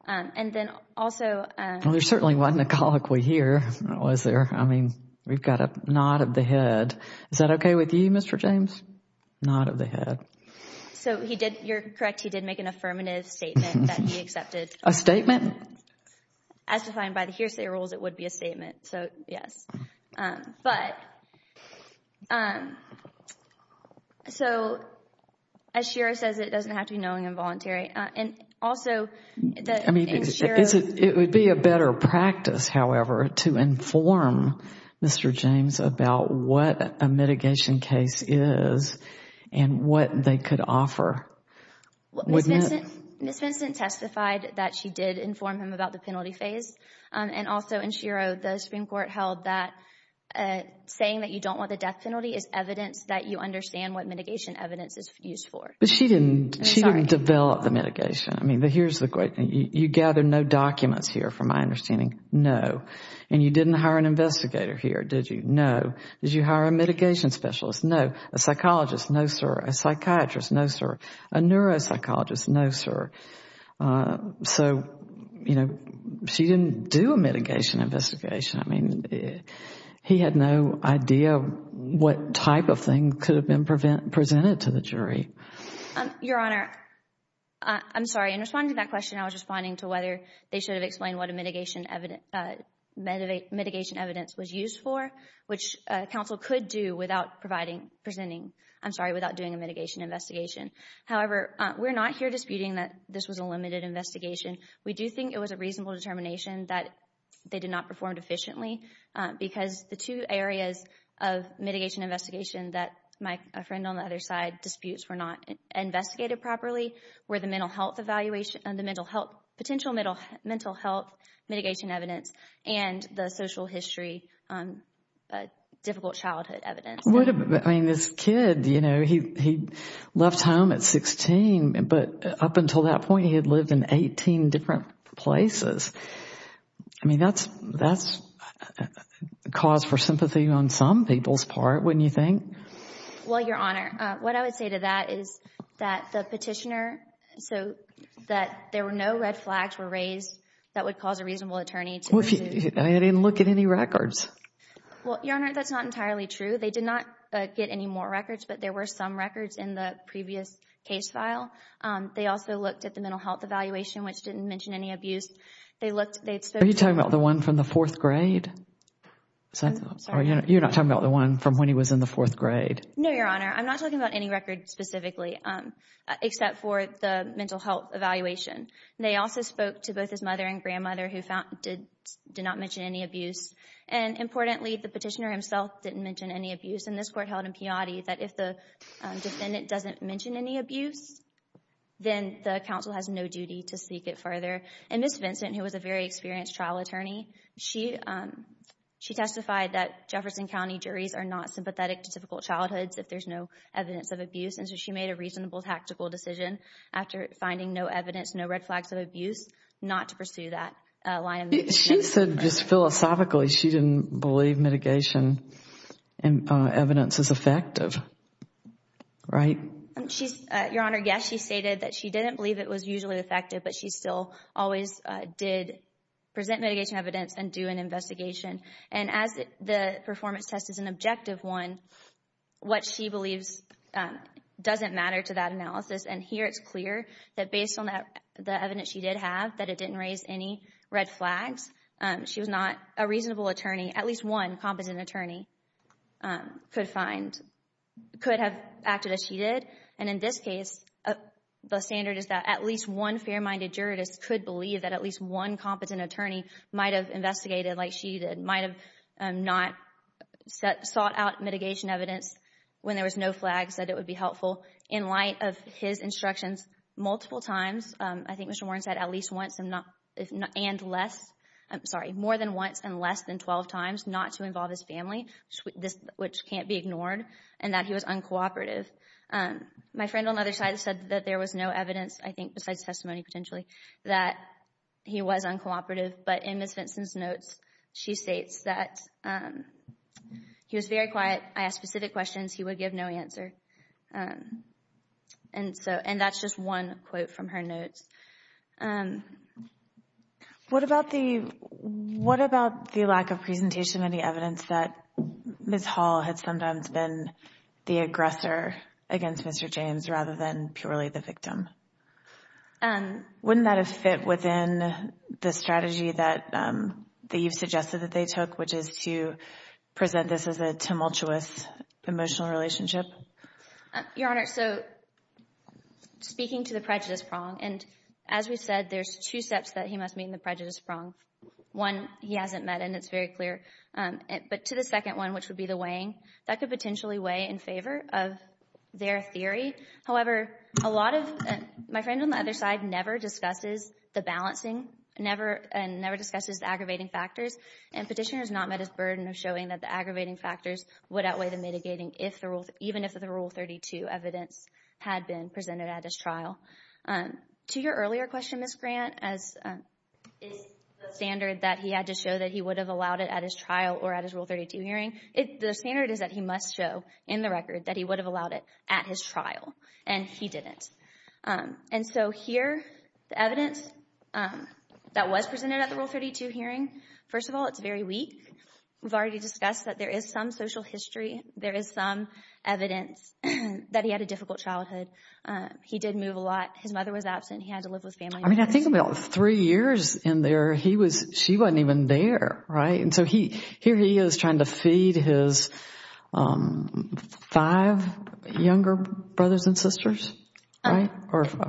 And then also – Well, there certainly wasn't a colloquy here, was there? I mean, we've got a nod of the head. Is that okay with you, Mr. James? Nod of the head. So he did, you're correct, he did make an affirmative statement that he accepted. A statement? As defined by the hearsay rules, it would be a statement. So, yes. But, so as Shiro says, it doesn't have to be knowing involuntary. And also – I mean, it would be a better practice, however, to inform Mr. James about what a mitigation case is and what they could offer. Ms. Vincent testified that she did inform him about the penalty phase and also in Shiro, the Supreme Court held that saying that you don't want the death penalty is evidence that you understand what mitigation evidence is used for. But she didn't develop the mitigation. I mean, here's the question. You gather no documents here from my understanding? No. And you didn't hire an investigator here, did you? No. Did you hire a mitigation specialist? No. A psychologist? No, sir. A psychiatrist? No, sir. A neuropsychologist? No, sir. So, you know, she didn't do a mitigation investigation. I mean, he had no idea what type of thing could have been presented to the jury. Your Honor, I'm sorry. In responding to that question, I was responding to whether they should have explained what a mitigation evidence was used for, which counsel could do without providing, presenting, I'm sorry, without doing a mitigation investigation. However, we're not here disputing that this was a limited investigation. We do think it was a reasonable determination that they did not perform efficiently because the two areas of mitigation investigation that my friend on the other side disputes were not investigated properly were the mental health evaluation and the potential mental health mitigation evidence and the social history difficult childhood evidence. I mean, this kid, you know, he left home at 16, but up until that point, he had lived in 18 different places. I mean, that's cause for sympathy on some people's part, wouldn't you think? Well, Your Honor, what I would say to that is that the petitioner, so that there were no red flags were raised that would cause a reasonable attorney to dispute. I didn't look at any records. Well, Your Honor, that's not entirely true. They did not get any more records, but there were some records in the previous case file. They also looked at the mental health evaluation, which didn't mention any abuse. Are you talking about the one from the fourth grade? You're not talking about the one from when he was in the fourth grade. No, Your Honor. I'm not talking about any record specifically except for the mental health evaluation. They also spoke to both his mother and grandmother who did not mention any abuse. And importantly, the petitioner himself didn't mention any abuse, and this court held in peyote that if the defendant doesn't mention any abuse, then the counsel has no duty to seek it further. And Ms. Vincent, who was a very experienced trial attorney, she testified that Jefferson County juries are not sympathetic to typical childhoods if there's no evidence of abuse, and so she made a reasonable tactical decision after finding no evidence, no red flags of abuse, not to pursue that line of inquiry. She said just philosophically she didn't believe mitigation evidence is effective, right? Your Honor, yes, she stated that she didn't believe it was usually effective, but she still always did present mitigation evidence and do an investigation. And as the performance test is an objective one, what she believes doesn't matter to that analysis. And here it's clear that based on the evidence she did have, that it didn't raise any red flags. She was not a reasonable attorney. At least one competent attorney could find, could have acted as she did. And in this case, the standard is that at least one fair-minded jurist could believe that at least one competent attorney might have investigated like she did, might have not sought out mitigation evidence when there was no flags, said it would be helpful. In light of his instructions multiple times, I think Mr. Warren said at least once and less, I'm sorry, more than once and less than 12 times not to involve his family, which can't be ignored, and that he was uncooperative. My friend on the other side said that there was no evidence, I think besides testimony potentially, that he was uncooperative. But in Ms. Vinson's notes, she states that he was very quiet. I asked specific questions. He would give no answer. And that's just one quote from her notes. What about the lack of presentation of any evidence that Ms. Hall had sometimes been the aggressor against Mr. James rather than purely the victim? Wouldn't that have fit within the strategy that you've suggested that they took, which is to present this as a tumultuous emotional relationship? Your Honor, so speaking to the prejudice prong, and as we've said there's two steps that he must meet in the prejudice prong. One, he hasn't met, and it's very clear. But to the second one, which would be the weighing, that could potentially weigh in favor of their theory. However, a lot of my friend on the other side never discusses the balancing and never discusses the aggravating factors. And petitioner has not met his burden of showing that the aggravating factors would outweigh the mitigating even if the Rule 32 evidence had been presented at his trial. To your earlier question, Ms. Grant, is the standard that he had to show that he would have allowed it at his trial or at his Rule 32 hearing, the standard is that he must show in the record that he would have allowed it at his trial. And he didn't. And so here, the evidence that was presented at the Rule 32 hearing, first of all, it's very weak. We've already discussed that there is some social history. There is some evidence that he had a difficult childhood. He did move a lot. His mother was absent. He had to live with family members. I mean, I think about three years in there, she wasn't even there, right? And so here he is trying to feed his five younger brothers and sisters, right?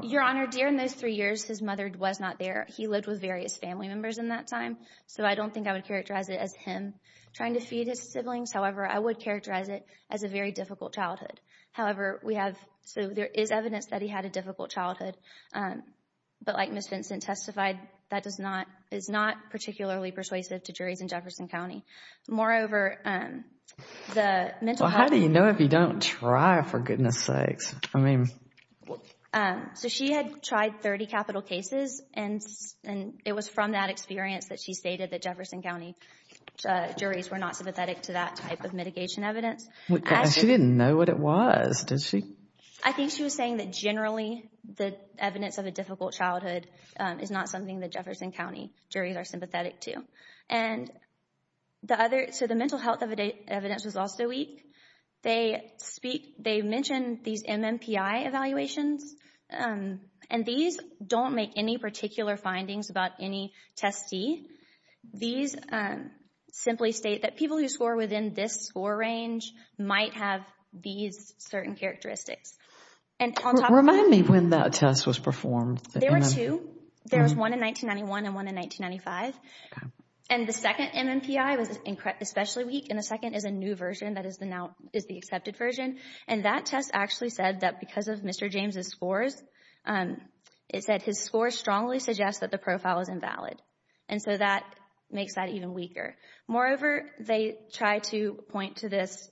Your Honor, during those three years, his mother was not there. He lived with various family members in that time. So I don't think I would characterize it as him trying to feed his siblings. However, I would characterize it as a very difficult childhood. However, we have, so there is evidence that he had a difficult childhood. But like Ms. Vincent testified, that is not particularly persuasive to juries in Jefferson County. Moreover, the mental health. Well, how do you know if you don't try, for goodness sakes? I mean. So she had tried 30 capital cases, and it was from that experience that she stated that Jefferson County juries were not sympathetic to that type of mitigation evidence. She didn't know what it was, did she? I think she was saying that generally the evidence of a difficult childhood is not something that Jefferson County juries are sympathetic to. And so the mental health evidence was also weak. They mentioned these MMPI evaluations, and these don't make any particular findings about any testee. These simply state that people who score within this score range might have these certain characteristics. Remind me when that test was performed. There were two. There was one in 1991 and one in 1995. And the second MMPI was especially weak, and the second is a new version that is the accepted version. And that test actually said that because of Mr. James' scores, it said his scores strongly suggest that the profile is invalid. And so that makes that even weaker. Moreover, they tried to point to this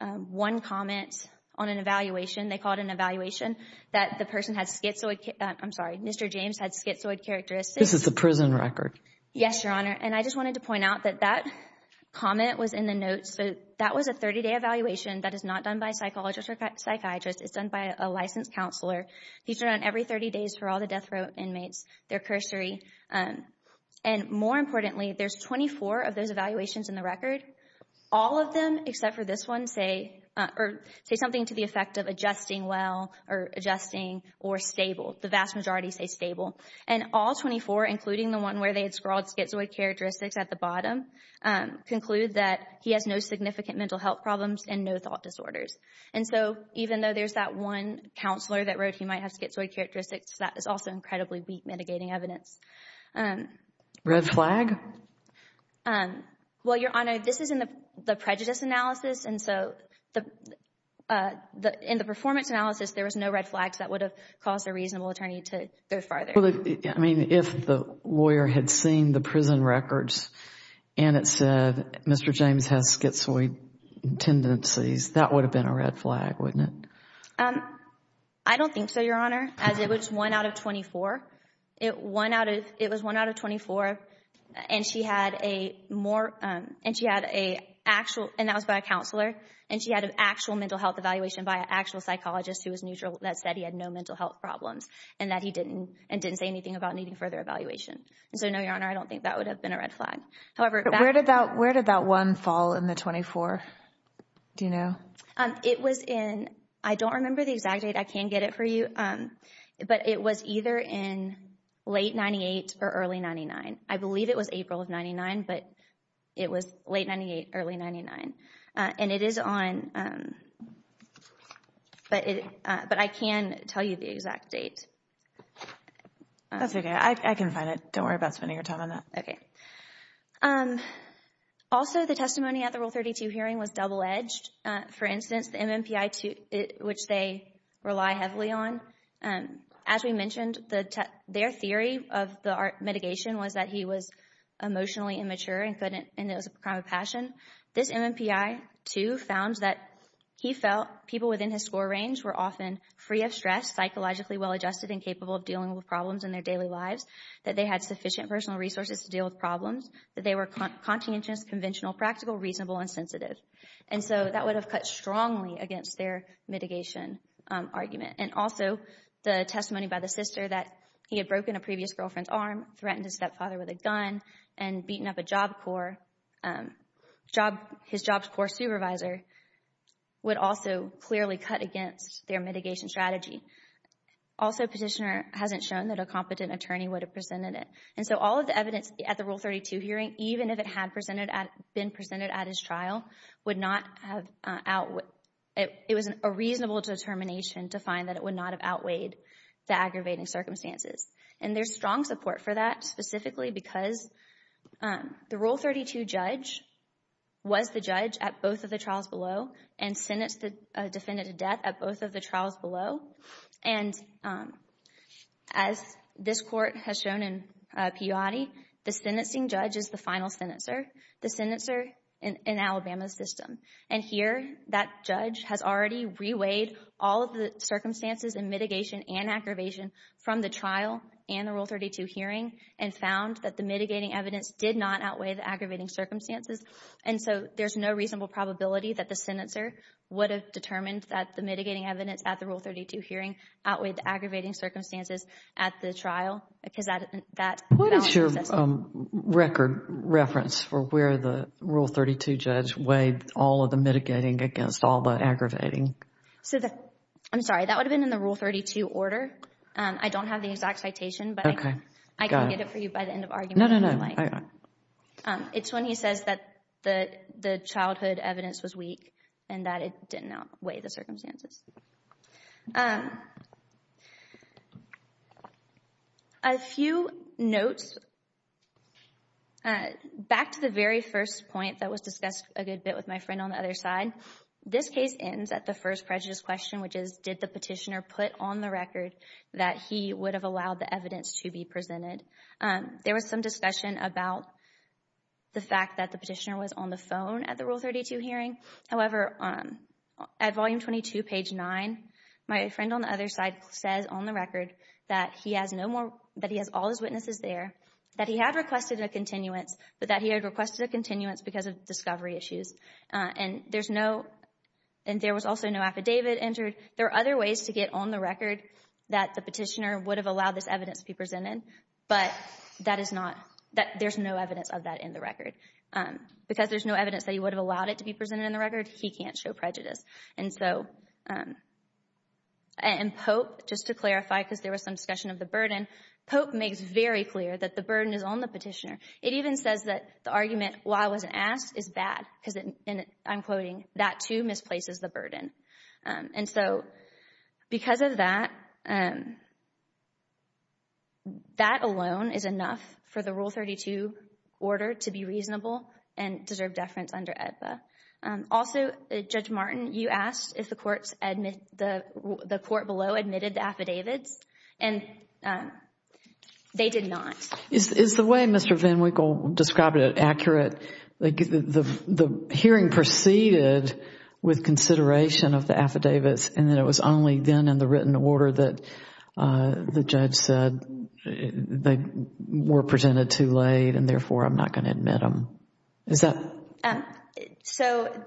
one comment on an evaluation. They called an evaluation that the person had schizoid. I'm sorry, Mr. James had schizoid characteristics. This is the prison record. Yes, Your Honor. And I just wanted to point out that that comment was in the notes. So that was a 30-day evaluation. That is not done by a psychologist or psychiatrist. It's done by a licensed counselor. These are done every 30 days for all the death row inmates. They're cursory. And more importantly, there's 24 of those evaluations in the record. All of them except for this one say something to the effect of adjusting well or adjusting or stable. The vast majority say stable. And all 24, including the one where they had scrawled schizoid characteristics at the bottom, conclude that he has no significant mental health problems and no thought disorders. And so even though there's that one counselor that wrote he might have schizoid characteristics, that is also incredibly weak mitigating evidence. Red flag? Well, Your Honor, this is in the prejudice analysis. And so in the performance analysis, there was no red flags that would have caused a reasonable attorney to go farther. I mean, if the lawyer had seen the prison records and it said Mr. James has schizoid tendencies, that would have been a red flag, wouldn't it? I don't think so, Your Honor. As it was one out of 24. It was one out of 24. And she had a actual, and that was by a counselor, and she had an actual mental health evaluation by an actual psychologist who said he had no mental health problems and didn't say anything about needing further evaluation. So, no, Your Honor, I don't think that would have been a red flag. Where did that one fall in the 24? Do you know? It was in, I don't remember the exact date. I can get it for you. But it was either in late 98 or early 99. I believe it was April of 99, but it was late 98, early 99. And it is on, but I can tell you the exact date. That's okay. I can find it. Don't worry about spending your time on that. Okay. Also, the testimony at the Rule 32 hearing was double-edged. For instance, the MMPI, which they rely heavily on, as we mentioned, their theory of the mitigation was that he was emotionally immature and it was a crime of passion. This MMPI, too, found that he felt people within his score range were often free of stress, psychologically well-adjusted, and capable of dealing with problems in their daily lives, that they had sufficient personal resources to deal with problems, that they were conscientious, conventional, practical, reasonable, and sensitive. And so that would have cut strongly against their mitigation argument. And also the testimony by the sister that he had broken a previous girlfriend's arm, threatened his stepfather with a gun, and beaten up a Job Corps, his Job Corps supervisor, would also clearly cut against their mitigation strategy. Also, Petitioner hasn't shown that a competent attorney would have presented it. And so all of the evidence at the Rule 32 hearing, even if it had been presented at his trial, it was a reasonable determination to find that it would not have outweighed the aggravating circumstances. And there's strong support for that, specifically because the Rule 32 judge was the judge at both of the trials below and sentenced the defendant to death at both of the trials below. And as this Court has shown in Peyote, the sentencing judge is the final senator, the senator in Alabama's system. And here that judge has already reweighed all of the circumstances and mitigation and aggravation from the trial and the Rule 32 hearing and found that the mitigating evidence did not outweigh the aggravating circumstances. And so there's no reasonable probability that the senator would have determined that the mitigating evidence at the Rule 32 hearing outweighed the aggravating circumstances at the trial because that... What is your record reference for where the Rule 32 judge weighed all of the mitigating against all the aggravating? I'm sorry. That would have been in the Rule 32 order. I don't have the exact citation, but I can get it for you by the end of argument. No, no, no. It's when he says that the childhood evidence was weak and that it did not outweigh the circumstances. A few notes. Back to the very first point that was discussed a good bit with my friend on the other side. This case ends at the first prejudice question, which is, did the petitioner put on the record that he would have allowed the evidence to be presented? There was some discussion about the fact that the petitioner was on the phone at the Rule 32 hearing. However, at Volume 22, page 9, my friend on the other side says on the record that he has all his witnesses there, that he had requested a continuance, but that he had requested a continuance because of discovery issues. And there was also no affidavit entered. There are other ways to get on the record that the petitioner would have allowed this evidence to be presented, but there's no evidence of that in the record. Because there's no evidence that he would have allowed it to be presented in the record, he can't show prejudice. And Pope, just to clarify, because there was some discussion of the burden, Pope makes very clear that the burden is on the petitioner. It even says that the argument, why I wasn't asked, is bad because, and I'm quoting, that too misplaces the burden. And so, because of that, that alone is enough for the Rule 32 order to be reasonable and deserve deference under AEDPA. Also, Judge Martin, you asked if the court below admitted the affidavits, and they did not. Is the way Mr. Van Winkle described it accurate? The hearing proceeded with consideration of the affidavits, and then it was only then in the written order that the judge said, they were presented too late, and therefore I'm not going to admit them. Is that? So,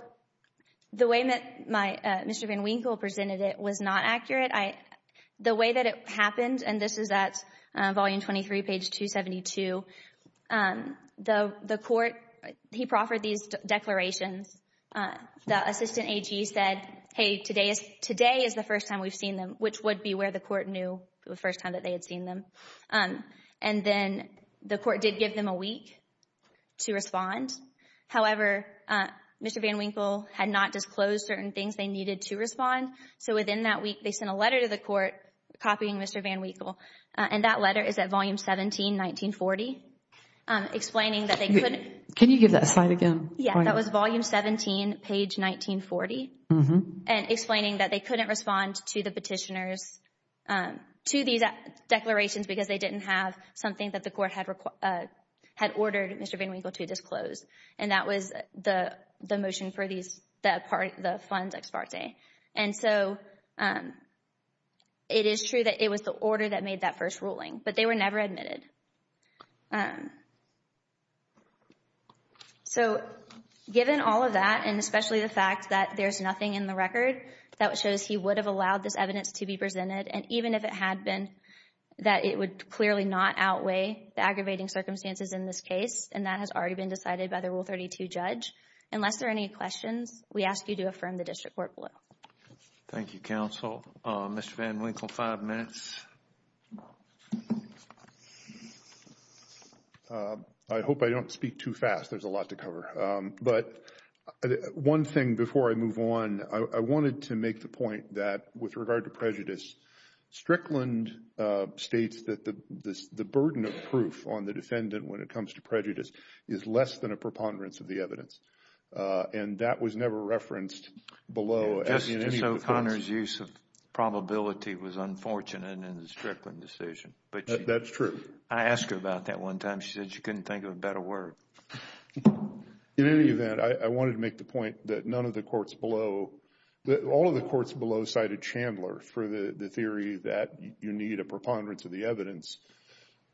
the way Mr. Van Winkle presented it was not accurate. The way that it happened, and this is at volume 23, page 272, the court, he proffered these declarations. The assistant AG said, hey, today is the first time we've seen them, which would be where the court knew the first time that they had seen them. And then the court did give them a week to respond. However, Mr. Van Winkle had not disclosed certain things they needed to respond, so within that week they sent a letter to the court copying Mr. Van Winkle, and that letter is at volume 17, 1940, explaining that they couldn't. Can you give that slide again? Yeah, that was volume 17, page 1940, and explaining that they couldn't respond to the petitioners, to these declarations because they didn't have something that the court had ordered Mr. Van Winkle to disclose, and that was the motion for the funds ex parte. And so it is true that it was the order that made that first ruling, but they were never admitted. So given all of that, and especially the fact that there's nothing in the record that shows he would have allowed this evidence to be presented, and even if it had been, that it would clearly not outweigh the aggravating circumstances in this case, and that has already been decided by the Rule 32 judge, unless there are any questions, we ask you to affirm the district court rule. Thank you, counsel. Mr. Van Winkle, five minutes. I hope I don't speak too fast. There's a lot to cover, but one thing before I move on, I wanted to make the point that with regard to prejudice, Strickland states that the burden of proof on the defendant when it comes to And that was never referenced below. Just so Connor's use of probability was unfortunate in the Strickland decision. That's true. I asked her about that one time. She said she couldn't think of a better word. In any event, I wanted to make the point that none of the courts below, all of the courts below cited Chandler for the theory that you need a preponderance of the evidence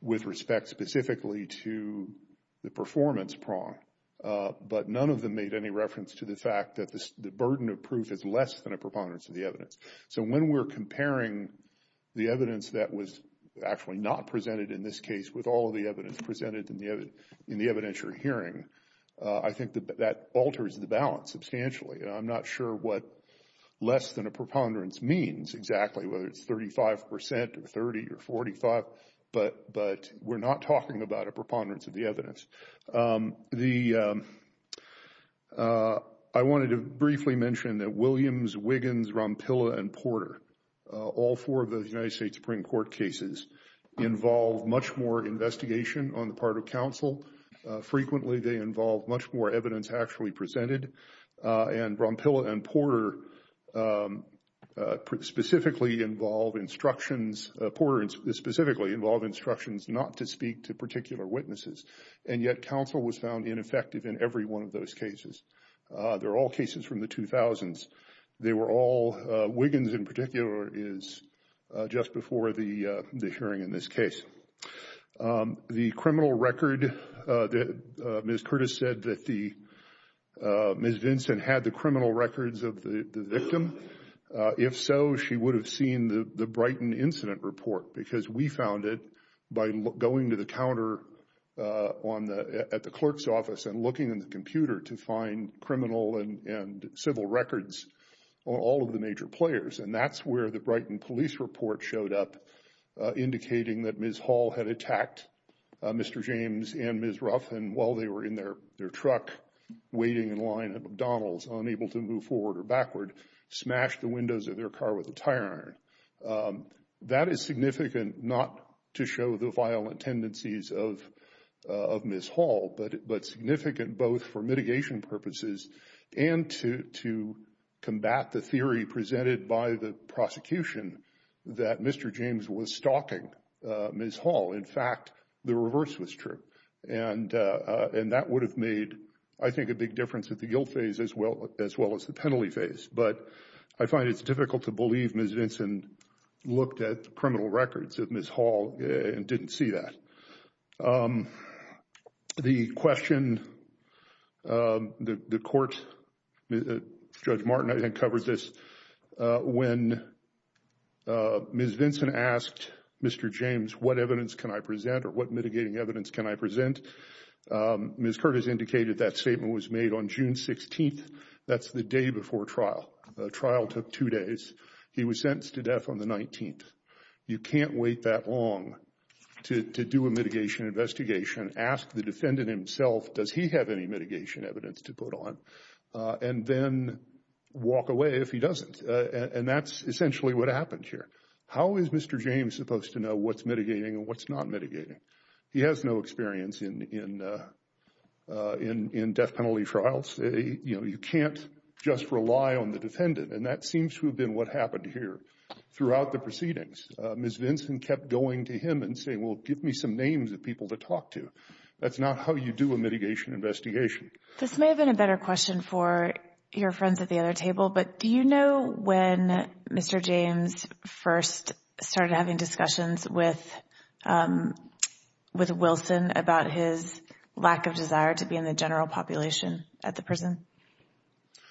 with respect specifically to the performance prong. But none of them made any reference to the fact that the burden of proof is less than a preponderance of the evidence. So when we're comparing the evidence that was actually not presented in this case with all of the evidence presented in the evidentiary hearing, I think that that alters the balance substantially. And I'm not sure what less than a preponderance means exactly, whether it's 35 percent or 30 or 45, but we're not talking about a preponderance of the evidence. I wanted to briefly mention that Williams, Wiggins, Rompilla, and Porter, all four of the United States Supreme Court cases involve much more investigation on the part of counsel. Frequently they involve much more evidence actually presented. And Rompilla and Porter specifically involve instructions, Porter specifically involve instructions not to speak to particular witnesses. And yet counsel was found ineffective in every one of those cases. They're all cases from the 2000s. They were all, Wiggins in particular, is just before the hearing in this case. The criminal record, Ms. Curtis said that Ms. Vinson had the criminal records of the victim. If so, she would have seen the Brighton incident report because we found it by going to the counter at the clerk's office and looking in the computer to find criminal and civil records on all of the major players. And that's where the Brighton police report showed up, indicating that Ms. Hall had attacked Mr. James and Ms. Ruff, and while they were in their truck waiting in line at McDonald's, unable to move forward or backward, smashed the windows of their car with a tire iron. That is significant not to show the violent tendencies of Ms. Hall, but significant both for mitigation purposes and to combat the theory presented by the prosecution that Mr. James was stalking Ms. Hall. In fact, the reverse was true. And that would have made, I think, a big difference at the guilt phase as well as the penalty phase. But I find it's difficult to believe Ms. Vinson looked at the criminal records of Ms. Hall and didn't see that. The question, the court, Judge Martin, I think, covered this when Ms. Vinson asked Mr. James, what evidence can I present or what mitigating evidence can I present? Ms. Curtis indicated that statement was made on June 16th. That's the day before trial. The trial took two days. He was sentenced to death on the 19th. You can't wait that long to do a mitigation investigation, ask the defendant himself does he have any mitigation evidence to put on, and then walk away if he doesn't. And that's essentially what happened here. How is Mr. James supposed to know what's mitigating and what's not mitigating? He has no experience in death penalty trials. You can't just rely on the defendant, and that seems to have been what happened here throughout the proceedings. Ms. Vinson kept going to him and saying, well, give me some names of people to talk to. That's not how you do a mitigation investigation. This may have been a better question for your friends at the other table, but do you know when Mr. James first started having discussions with Wilson about his lack of desire to be in the general population at the prison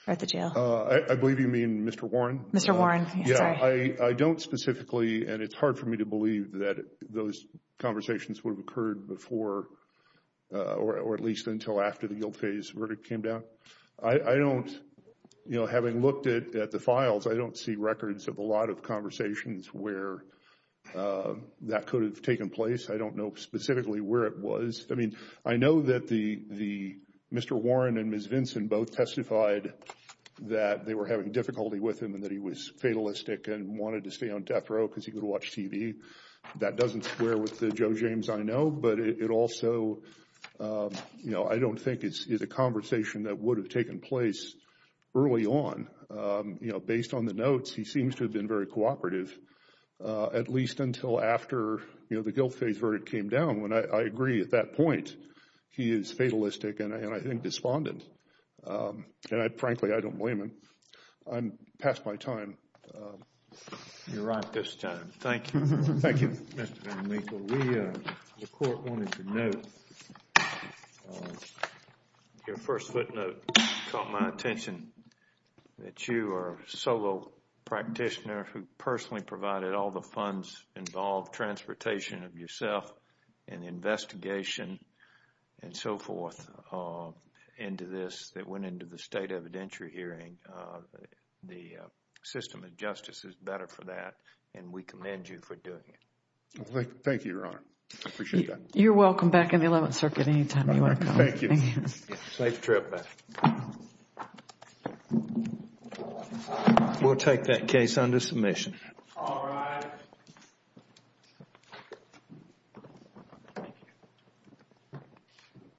or at the jail? I believe you mean Mr. Warren. Mr. Warren. Yeah, I don't specifically, and it's hard for me to believe that those conversations would have occurred before or at least until after the guilt phase verdict came down. I don't, you know, having looked at the files, I don't see records of a lot of conversations where that could have taken place. I don't know specifically where it was. I mean, I know that Mr. Warren and Ms. Vinson both testified that they were having difficulty with him and that he was fatalistic and wanted to stay on death row because he could watch TV. That doesn't square with the Joe James I know, but it also, you know, I don't think is a conversation that would have taken place early on. You know, based on the notes, he seems to have been very cooperative, at least until after, you know, the guilt phase verdict came down, when I agree at that point he is fatalistic and I think despondent. And I frankly, I don't blame him. I'm past my time. You're right this time. Thank you. Thank you. Mr. VanLiepel, we, the court wanted to know, your first footnote caught my attention, that you are a solo practitioner who personally provided all the funds involved, transportation of yourself and the investigation and so forth into this that went into the state evidentiary hearing. The system of justice is better for that and we commend you for doing it. Thank you, Your Honor. I appreciate that. You're welcome back in the Eleventh Circuit anytime you want to come. Thank you. Safe trip back. We'll take that case under submission. All rise.